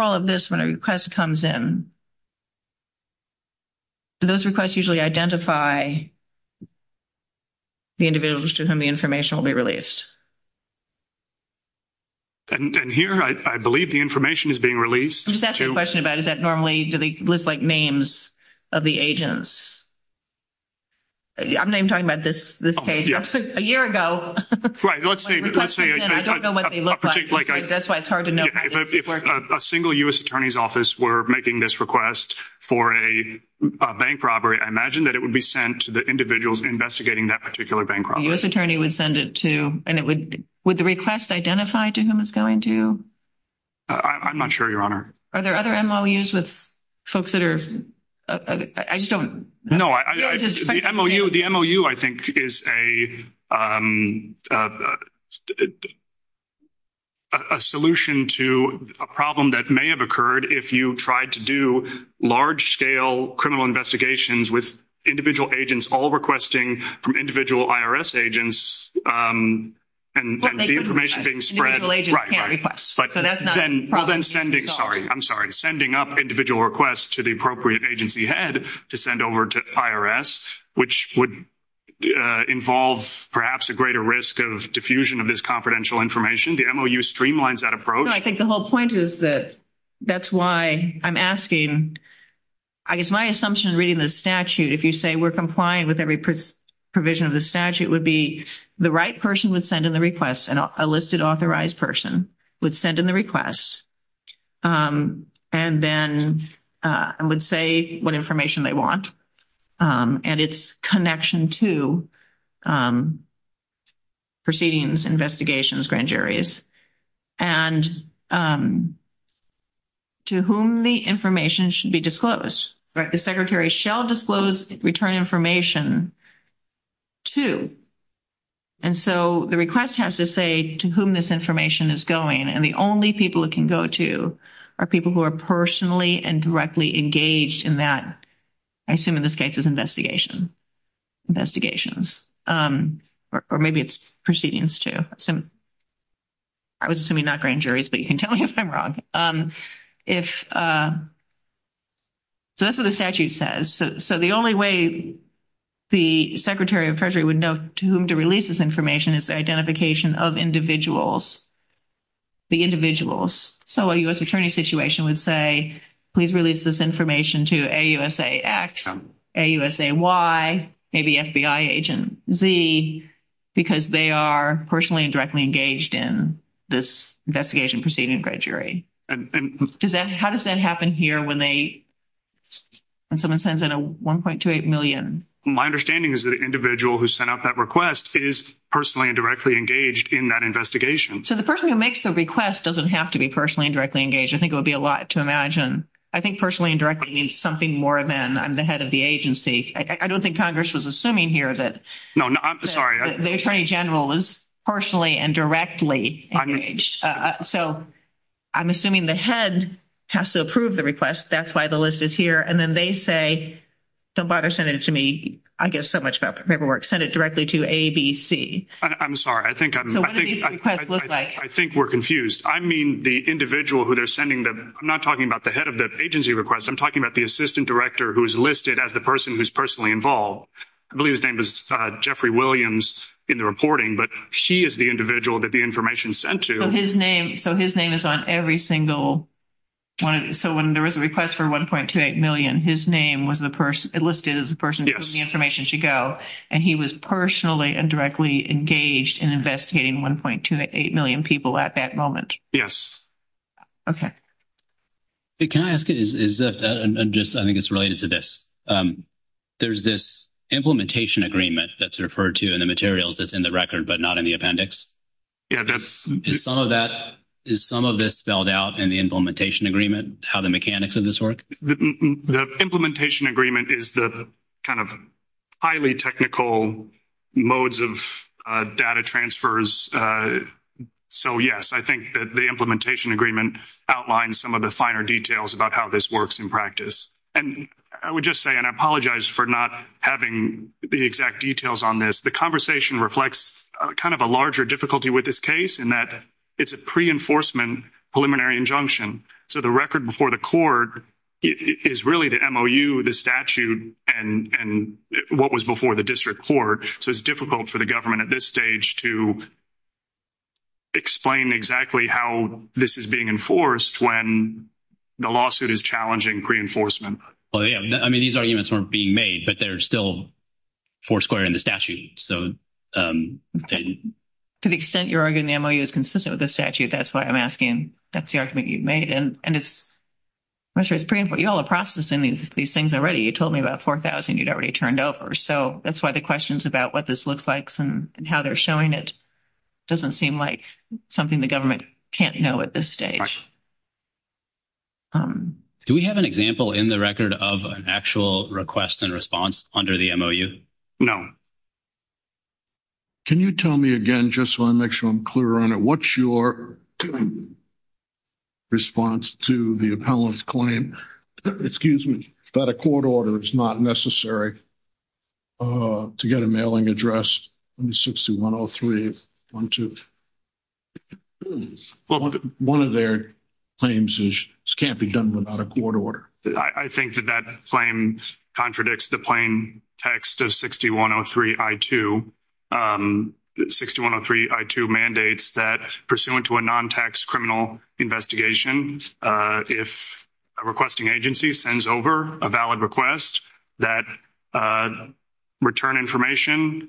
all of this, when a request comes in, those requests usually identify the individual to whom the information will be released. And here, I believe the information is being released to... I'm just asking a question about, is that normally... Do they look like names of the agents? I'm not even talking about this case. A year ago... Right. Let's say... I don't know what they look like. That's why it's hard to know. If a single U.S. Attorney's Office were making this request for a bank robbery, I imagine that it would be sent to the individuals investigating that particular bank robbery. A U.S. Attorney would send it to... And it would... Would the request identify to whom it's going to? I'm not sure, Your Honor. Are there other MOUs with folks that are... I just don't... No. The MOU, I think, is a solution to a problem that may have occurred if you tried to do large-scale criminal investigations with individual agents all requesting from individual IRS agents and the information being spread... Individual agents can't request. Right, right. So that's not... Well, then sending... Sorry. I'm sorry. Sending up individual requests to the appropriate agency head to send over to IRS, which would involve, perhaps, a greater risk of diffusion of this confidential information. The MOU streamlines that approach. No, I think the whole point is that that's why I'm asking. I guess my assumption in reading the statute, if you say we're complying with every provision of the statute, would be the right person would send in the request, and a listed authorized person would send in the request, and then would say what information they want. And it's connection to proceedings, investigations, grand juries. And to whom the information should be disclosed. Right? The secretary shall disclose return information to. And so the request has to say to whom this information is going, and the only people it can go to are people who are personally and directly engaged in that. I assume in this case it's investigation. Investigations. Or maybe it's proceedings, too. I was assuming not grand juries, but you can tell me if I'm wrong. So that's what the statute says. So the only way the Secretary of Treasury would know to whom to release this information is the identification of individuals. The individuals. So a U.S. attorney's situation would say, please release this information to a USA Act person. A USA why? Maybe FBI agent Z, because they are personally and directly engaged in this investigation proceeding grand jury. How does that happen here when they, when someone sends in a 1.28 million? My understanding is that an individual who sent out that request is personally and directly engaged in that investigation. So the person who makes the request doesn't have to be personally and directly engaged. I think it would be a lot to imagine. I think personally and directly means something more than I'm the head of the agency. I don't think Congress was assuming here that. No, I'm sorry. The Attorney General was personally and directly engaged. So I'm assuming the head has to approve the request. That's why the list is here. And then they say, somebody sent it to me. I guess so much about paperwork. Sent it directly to ABC. I'm sorry. I think I'm. So what do these requests look like? I think we're confused. I mean, the individual who they're sending them. I'm not talking about the head of the agency request. I'm talking about the assistant director who's listed as the person who's personally involved. I believe his name is Jeffrey Williams in the reporting, but she is the individual that the information sent to. So his name is on every single one. So when there was a request for 1.28 million, his name was the person listed as the person. The information should go. And he was personally and directly engaged in investigating 1.28 million people at that moment. Yes. Okay. Can I ask you, I think it's related to this. There's this implementation agreement that's referred to in the materials that's in the record, but not in the appendix. Yeah, that's. Is some of this spelled out in the implementation agreement, how the mechanics of this work? The implementation agreement is the kind of highly technical modes of data transfers. So, yes, I think that the implementation agreement outlined some of the finer details about how this works in practice. And I would just say, and I apologize for not having the exact details on this. The conversation reflects kind of a larger difficulty with this case in that it's a pre-enforcement preliminary injunction. So the record before the court is really the MOU, the statute, and what was before the district court. So it's difficult for the government at this stage to explain exactly how this is being enforced when the lawsuit is challenging pre-enforcement. Well, yeah, I mean, these arguments weren't being made, but they're still foursquare in the statute. To the extent your argument in the MOU is consistent with the statute, that's why I'm asking if that's the argument you've made. And it's pretty important. You're all processing these things already. You told me about 4,000 you'd already turned over. So that's why the questions about what this looks like and how they're showing it doesn't seem like something the government can't know at this stage. Do we have an example in the record of an actual request and response under the MOU? No. Can you tell me again, just so I make sure I'm clear on it, what's your response to the appellant's claim that a court order is not necessary to get a mailing address in 6103.12? One of their claims is this can't be done without a court order. I think that that claim contradicts the plain text of 6103.I.2. 6103.I.2 mandates that pursuant to a non-tax criminal investigation, if a requesting agency sends over a valid request that return information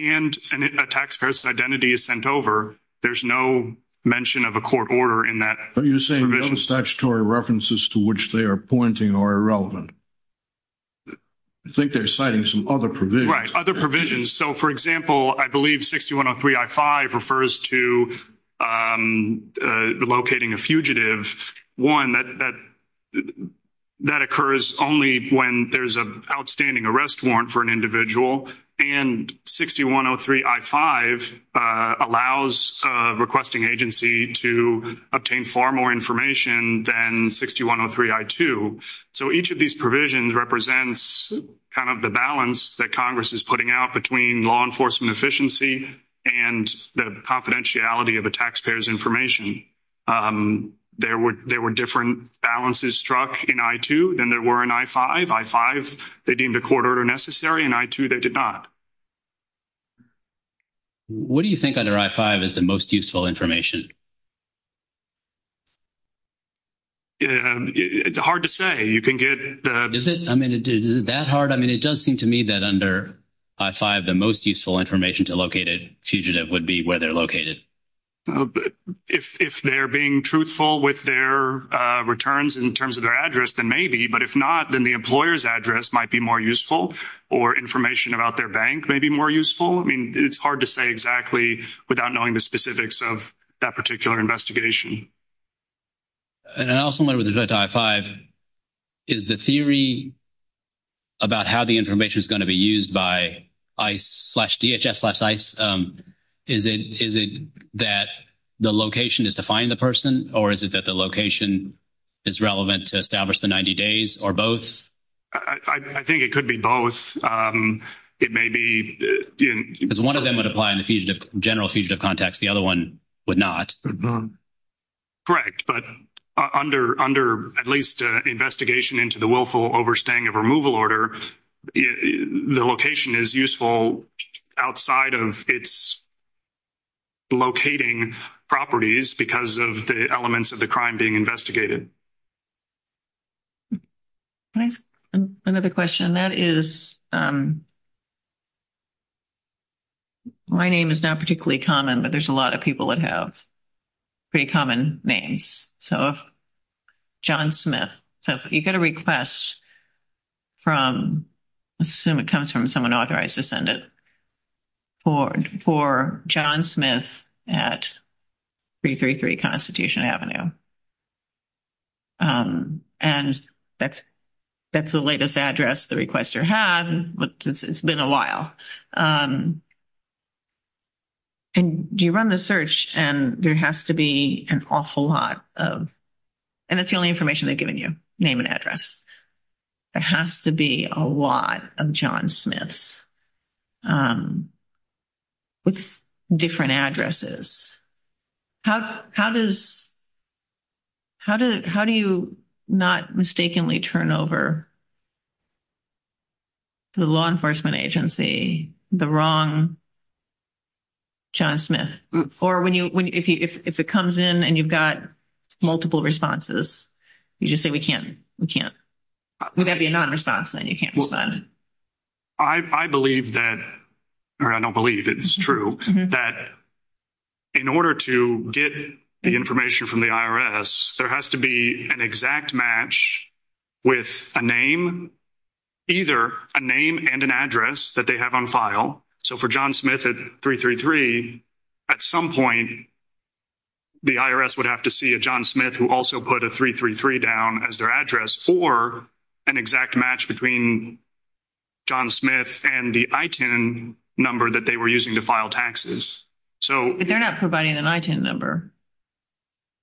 and a tax person's identity is sent over, there's no mention of a court order in that provision. No statutory references to which they are pointing are irrelevant. I think they're citing some other provisions. Right, other provisions. So, for example, I believe 6103.I.5 refers to locating a fugitive. One, that occurs only when there's an outstanding arrest warrant for an individual. And 6103.I.5 allows a requesting agency to obtain far more information than 6103.I.2. So each of these provisions represents kind of the balance that Congress is putting out between law enforcement efficiency and the confidentiality of a taxpayer's information. There were different balances struck in 6103.I.2 than there were in 6103.I.5. 6103.I.5, they deemed a court order necessary, and 6103.I.2, they did not. What do you think under 6103.I.5 is the most useful information? It's hard to say. Is it? I mean, is it that hard? I mean, it does seem to me that under 6103.I.5, the most useful information to locate a fugitive would be where they're located. If they're being truthful with their returns in terms of their address, then maybe. But if not, then the employer's address might be more useful, or information about their bank may be more useful. I mean, it's hard to say exactly without knowing the specifics of that particular investigation. And I also wonder with respect to 6103.I.5, is the theory about how the information is going to be used by ICE slash DHS slash ICE, is it that the location is to find the person, or is it that the location is relevant to establish the 90 days, or both? I think it could be both. It may be. Because one of them would apply in general fugitive context. The other one would not. Correct. But under at least investigation into the willful overstaying of removal order, the location is useful outside of its locating properties because of the elements of the crime being investigated. Another question. And that is, my name is not particularly common, but there's a lot of people that have pretty common names. So, John Smith. So, if you get a request from, I assume it comes from someone authorized to send it, for John Smith at 333 Constitution Avenue. And that's the latest address the requester has, but it's been a while. And you run the search, and there has to be an awful lot of, and it's the only information they've given you, name and address. There has to be a lot of John Smiths with different addresses. How does, how do you not mistakenly turn over to the law enforcement agency the wrong John Smith? Or if it comes in and you've got multiple responses, you just say, we can't, we can't. Would that be a non-response, then you can't move on? I believe that, or I don't believe it's true, that in order to get the information from the IRS, there has to be an exact match with a name, either a name and an address that they have on file. So, for John Smith at 333, at some point, the IRS would have to see a John Smith who also put a 333 down as their address for an exact match between John Smith and the ITIN number that they were using to file taxes. But they're not providing an ITIN number,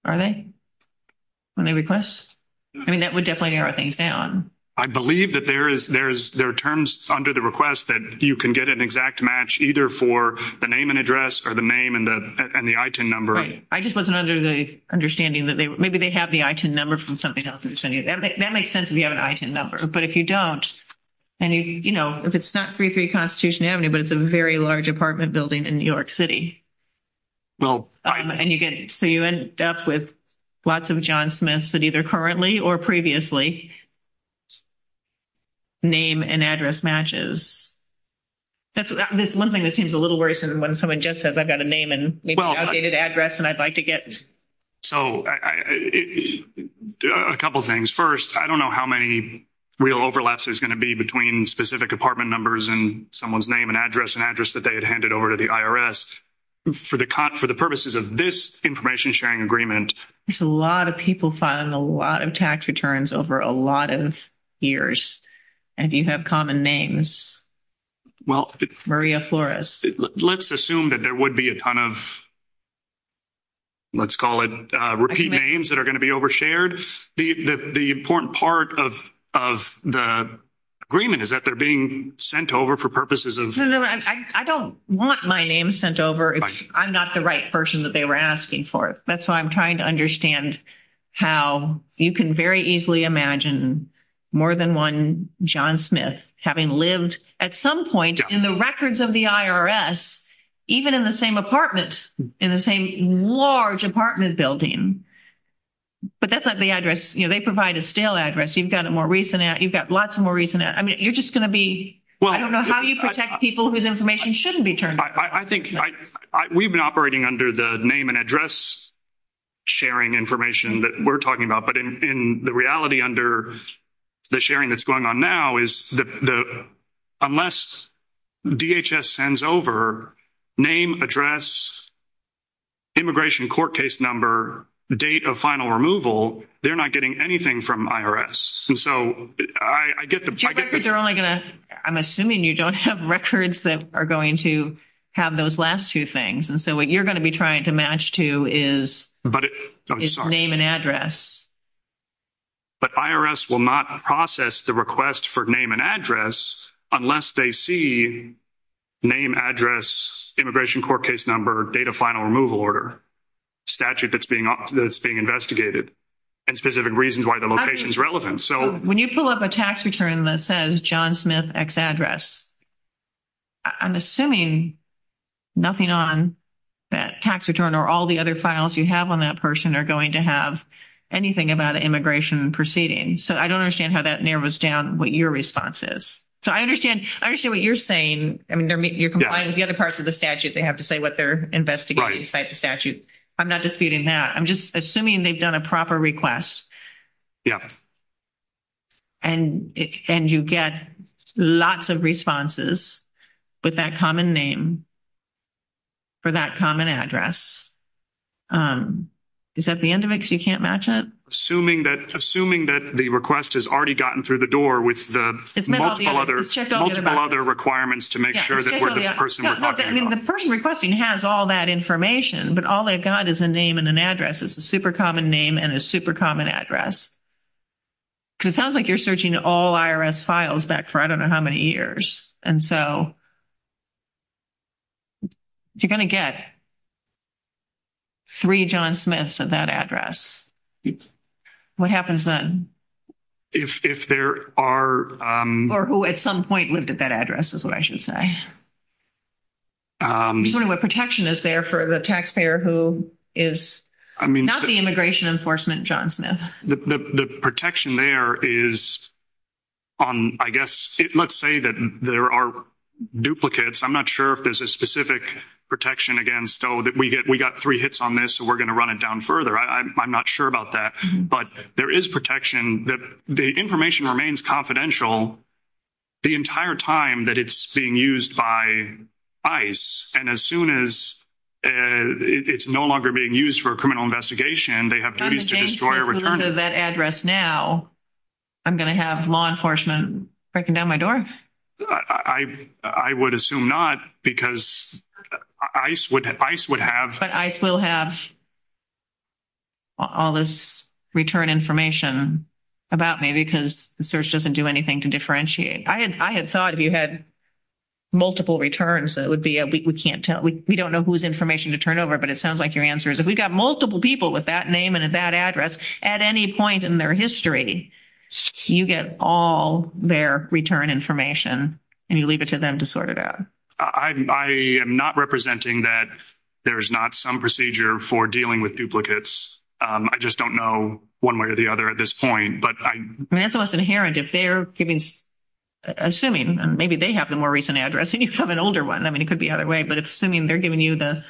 are they, when they request? I mean, that would definitely narrow things down. I believe that there is, there are terms under the request that you can get an exact match either for the name and address or the name and the ITIN number. I just wasn't under the understanding that they, maybe they have the ITIN number from something else. That makes sense if you have an ITIN number. But if you don't, and, you know, if it's not 333 Constitution Avenue, but it's a very large apartment building in New York City. Well. And you get, so you end up with lots of John Smiths that either currently or previously name and address matches. That's one thing that seems a little worse than when someone just says, I've got a name and maybe an updated address and I'd like to get. So, a couple of things. First, I don't know how many real overlaps there's going to be between specific apartment numbers and someone's name and address and address that they had handed over to the IRS. For the purposes of this information sharing agreement. There's a lot of people filing a lot of tax returns over a lot of years. And you have common names. Well. Maria Flores. Let's assume that there would be a ton of, let's call it, repeat names that are going to be overshared. The important part of the agreement is that they're being sent over for purposes of. I don't want my name sent over. I'm not the right person that they were asking for. That's why I'm trying to understand how you can very easily imagine more than one John Smith having lived at some point in the records of the IRS, even in the same apartment, in the same large apartment building. But that's not the address. You know, they provide a stale address. You've got a more recent, you've got lots of more recent. I mean, you're just going to be, I don't know how you protect people whose information shouldn't be turned over. We've been operating under the name and address sharing information that we're talking about. But the reality under the sharing that's going on now is that unless DHS sends over name, address, immigration court case number, date of final removal, they're not getting anything from IRS. I'm assuming you don't have records that are going to have those last two things. And so what you're going to be trying to match to is name and address. But IRS will not process the request for name and address unless they see name, address, immigration court case number, date of final removal order, statute that's being investigated, and specific reasons why the location is relevant. When you pull up a tax return that says John Smith X address, I'm assuming nothing on that tax return or all the other files you have on that person are going to have anything about an immigration proceeding. So I don't understand how that narrows down what your response is. So I understand what you're saying. I mean, you're complying with the other parts of the statute. They have to say what they're investigating inside the statute. I'm not disputing that. I'm just assuming they've done a proper request. Yeah. And you get lots of responses with that common name for that common address. Is that the end of it because you can't match it? Assuming that the request has already gotten through the door with the multiple other requirements to make sure that where the person was talking about. The person requesting has all that information, but all they've got is a name and an address. It's a super common name and a super common address. Because it sounds like you're searching all IRS files back for I don't know how many years. And so you're going to get three John Smiths of that address. What happens then? If there are. Or who at some point lived at that address is what I should say. I'm just wondering what protection is there for the taxpayer who is not the immigration enforcement John Smith. The protection there is on, I guess, let's say that there are duplicates. I'm not sure if there's a specific protection against. We got three hits on this, so we're going to run it down further. I'm not sure about that. But there is protection that the information remains confidential the entire time that it's being used by ice. And as soon as it's no longer being used for a criminal investigation, they have to destroy that address. Now, I'm going to have law enforcement breaking down my door. I would assume not, because ice would have. But ice will have all this return information about me because the search doesn't do anything to differentiate. I had thought you had multiple returns. That would be we can't tell. We don't know whose information to turn over, but it sounds like your answer is if we've got multiple people with that name and that address at any point in their history. You get all their return information and you leave it to them to sort it out. I am not representing that. There's not some procedure for dealing with duplicates. I just don't know one way or the other at this point. That's what's inherent. If they're giving, assuming maybe they have the more recent address and you have an older one. I mean, it could be the other way. But assuming they're giving you the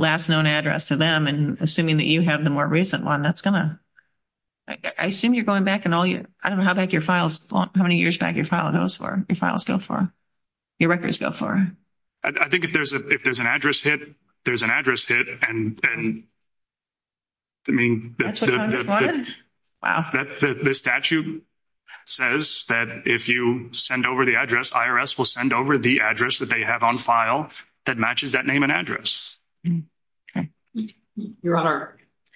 last known address to them and assuming that you have the more recent one, that's going to. I assume you're going back and I don't know how many years back your files go for. Your records go for. I think if there's an address hit, there's an address hit. And I mean, the statute says that if you send over the address, IRS will send over the address that they have on file that matches that name and address.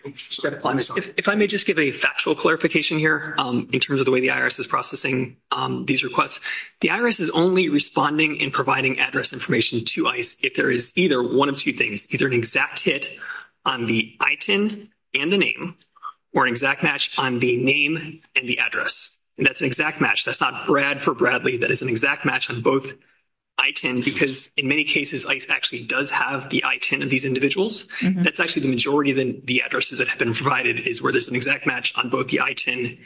If I may just give a factual clarification here in terms of the way the IRS is processing these requests. The IRS is only responding and providing address information to ICE if there is either one of two things. Either an exact hit on the ITIN and the name or an exact match on the name and the address. And that's an exact match. That's not Brad for Bradley. That is an exact match on both ITIN because in many cases, ICE actually does have the ITIN of these individuals. That's actually the majority of the addresses that have been provided is where there's an exact match on both the ITIN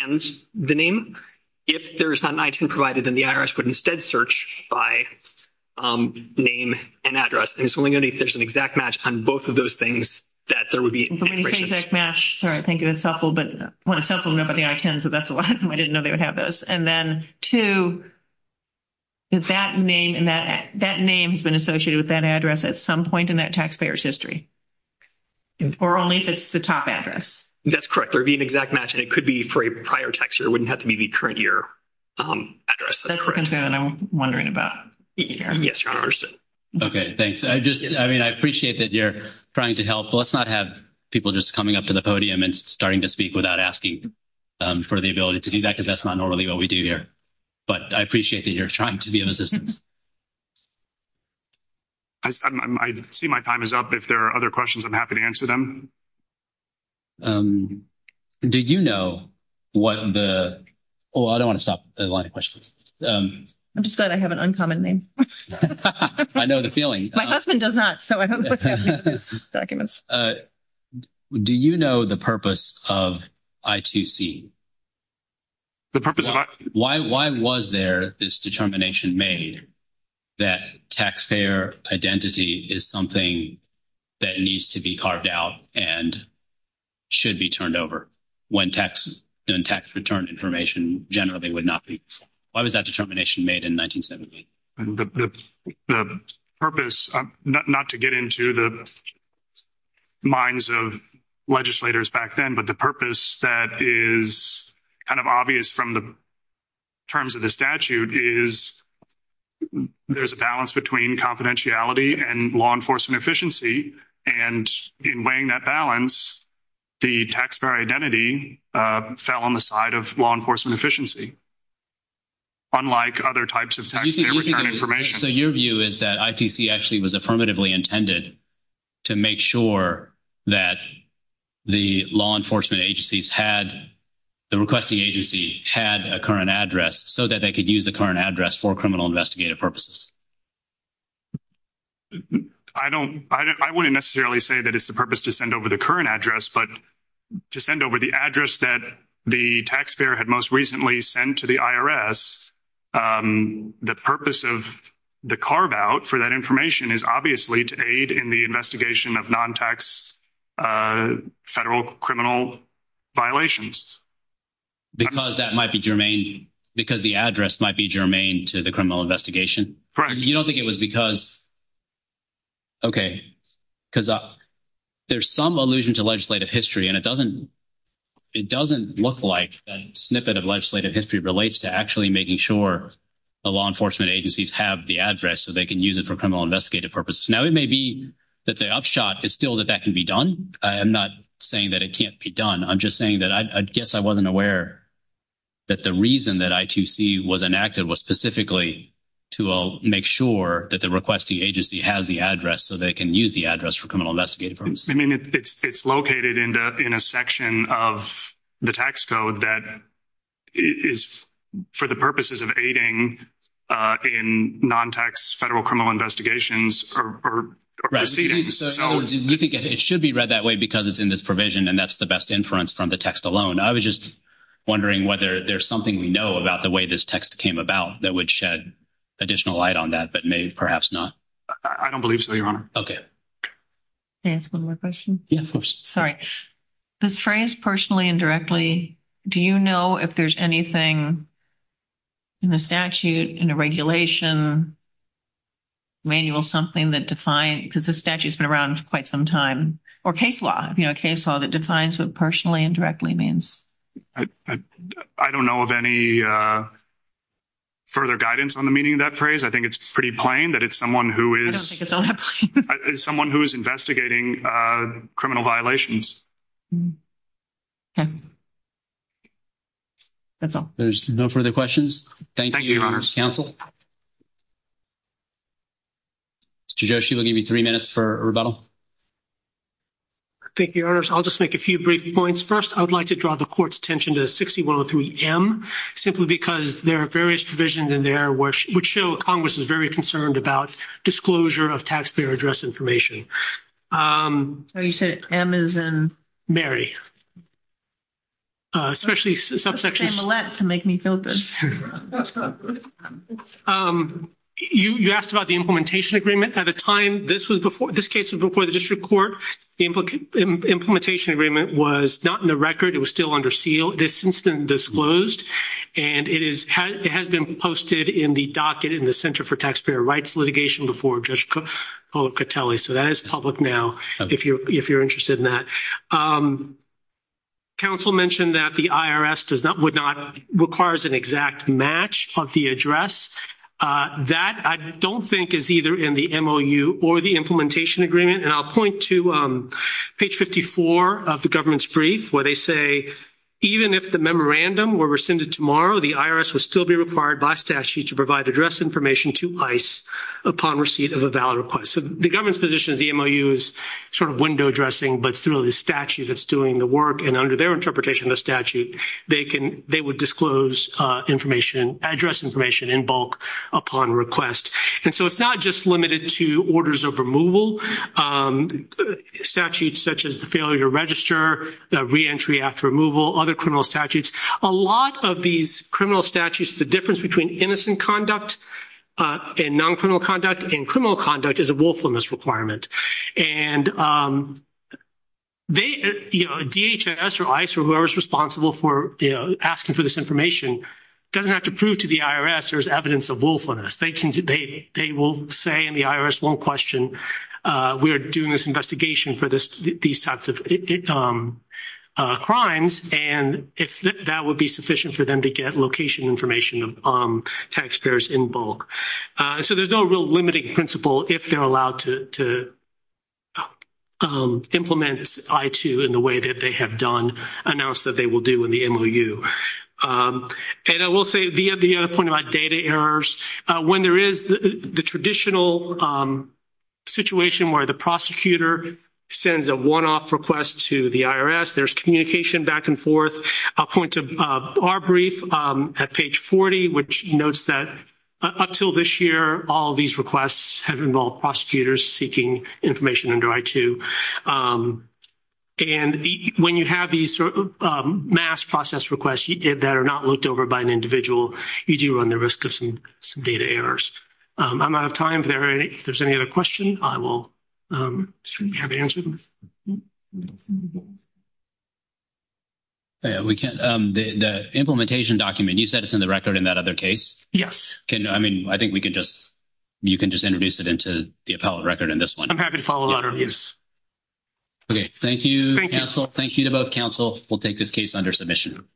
and the name. If there's not an ITIN provided, then the IRS would instead search by name and address. And so we're going to need to search an exact match on both of those things that there would be an expiration date. I think it was self-fulfilled, but when it's self-fulfilled, nobody ITINs it. That's why I didn't know they would have those. And then two, if that name has been associated with that address at some point in that taxpayer's history, or only if it's the top address. That's correct. There would be an exact match. And it could be for a prior tax year. It wouldn't have to be the current year address. That's what I'm wondering about. Yes, Your Honor. Okay. Thanks. I appreciate that you're trying to help. Let's not have people just coming up to the podium and starting to speak without asking for the ability to do that because that's not normally what we do here. But I appreciate that you're trying to be of assistance. I see my time is up. If there are other questions, I'm happy to answer them. Do you know what the – oh, I don't want to stop at a lot of questions. I'm just glad I have an uncommon name. I know the feeling. My husband does not, so I don't put that in my documents. Do you know the purpose of I2C? The purpose of I2C? Why was there this determination made that taxpayer identity is something that needs to be carved out and should be turned over when tax return information generally would not be? Why was that determination made in 1970? The purpose – not to get into the minds of legislators back then, but the purpose that is kind of obvious from the terms of the statute is there's a balance between confidentiality and law enforcement efficiency. And in weighing that balance, the taxpayer identity fell on the side of law enforcement efficiency. Unlike other types of taxpayer return information. So your view is that I2C actually was affirmatively intended to make sure that the law enforcement agencies had – the requesting agency had a current address so that they could use the current address for criminal investigative purposes. I don't – I wouldn't necessarily say that it's the purpose to send over the current address, but to send over the address that the taxpayer had most recently sent to the IRS, the purpose of the carve out for that information is obviously to aid in the investigation of non-tax federal criminal violations. Because that might be germane – because the address might be germane to the criminal investigation. You don't think it was because – okay. Because there's some allusion to legislative history, and it doesn't – it doesn't look like a snippet of legislative history relates to actually making sure the law enforcement agencies have the address so they can use it for criminal investigative purposes. Now, it may be that the upshot is still that that can be done. I am not saying that it can't be done. I'm just saying that I guess I wasn't aware that the reason that I2C was enacted was specifically to make sure that the requesting agency has the address so they can use the address for criminal investigative purposes. I mean, it's located in a section of the tax code that is for the purposes of aiding in non-tax federal criminal investigations or proceedings. We think it should be read that way because it's in this provision, and that's the best inference from the text alone. I was just wondering whether there's something we know about the way this text came about that would shed additional light on that, but maybe perhaps not. I don't believe so, Your Honor. Okay. May I ask one more question? Yeah, of course. Sorry. This phrase, personally and directly, do you know if there's anything in the statute, in the regulation, manual, something that defines it? Because the statute has been around for quite some time. Or case law, you know, case law that defines what personally and directly means. I don't know of any further guidance on the meaning of that phrase. I think it's pretty plain that it's someone who is investigating criminal violations. Okay. That's all. There's no further questions? Thank you, Your Honor. Thank you, counsel. Mr. Joshi, we'll give you three minutes for rebuttal. Thank you, Your Honor. So I'll just make a few brief points. First, I'd like to draw the Court's attention to 6103M simply because there are various provisions in there which show a congressional provision. Congress is very concerned about disclosure of taxpayer address information. Oh, you said M as in? Mary. Especially subsections. M to make me feel good. You asked about the implementation agreement. At the time, this case was before the district court. The implementation agreement was not in the record. It was still under seal. This incident disclosed. And it has been posted in the docket in the Center for Taxpayer Rights Litigation before Judge Policatelli. So that is public now if you're interested in that. Counsel mentioned that the IRS does not, would not, requires an exact match of the address. That, I don't think, is either in the MOU or the implementation agreement. And I'll point to page 54 of the government's brief where they say, even if the memorandum were rescinded tomorrow, the IRS would still be required by statute to provide address information to ICE upon receipt of a valid request. So the government's position of the MOU is sort of window dressing, but through the statute that's doing the work. And under their interpretation of the statute, they can, they would disclose information, address information in bulk upon request. And so it's not just limited to orders of removal, statutes such as the failure to register, the reentry after removal, other criminal statutes. A lot of these criminal statutes, the difference between innocent conduct and non-criminal conduct and criminal conduct is a willfulness requirement. And they, you know, DHS or ICE or whoever is responsible for, you know, asking for this information, doesn't have to prove to the IRS there's evidence of willfulness. They can, they will say in the IRS, one question, we are doing this investigation for these types of crimes, and if that would be sufficient for them to get location information on taxpayers in bulk. So there's no real limiting principle if they're allowed to implement I-2 in the way that they have done, announced that they will do in the MOU. And I will say the other point about data errors, when there is the traditional situation where the prosecutor sends a one-off request to the IRS, there's communication back and forth. I'll point to our brief at page 40, which notes that up until this year, all of these requests have involved prosecutors seeking information under I-2. And when you have these mass process requests that are not looked over by an individual, you do run the risk of some data errors. I'm out of time. If there's any other questions, I will have to answer them. The implementation document, you said it's in the record in that other case? Yes. I mean, I think we can just, you can just introduce it into the appellate record in this one. I'm happy to follow up. Yes. Okay. Thank you, counsel. Thank you to both counsel. We'll take this case under submission.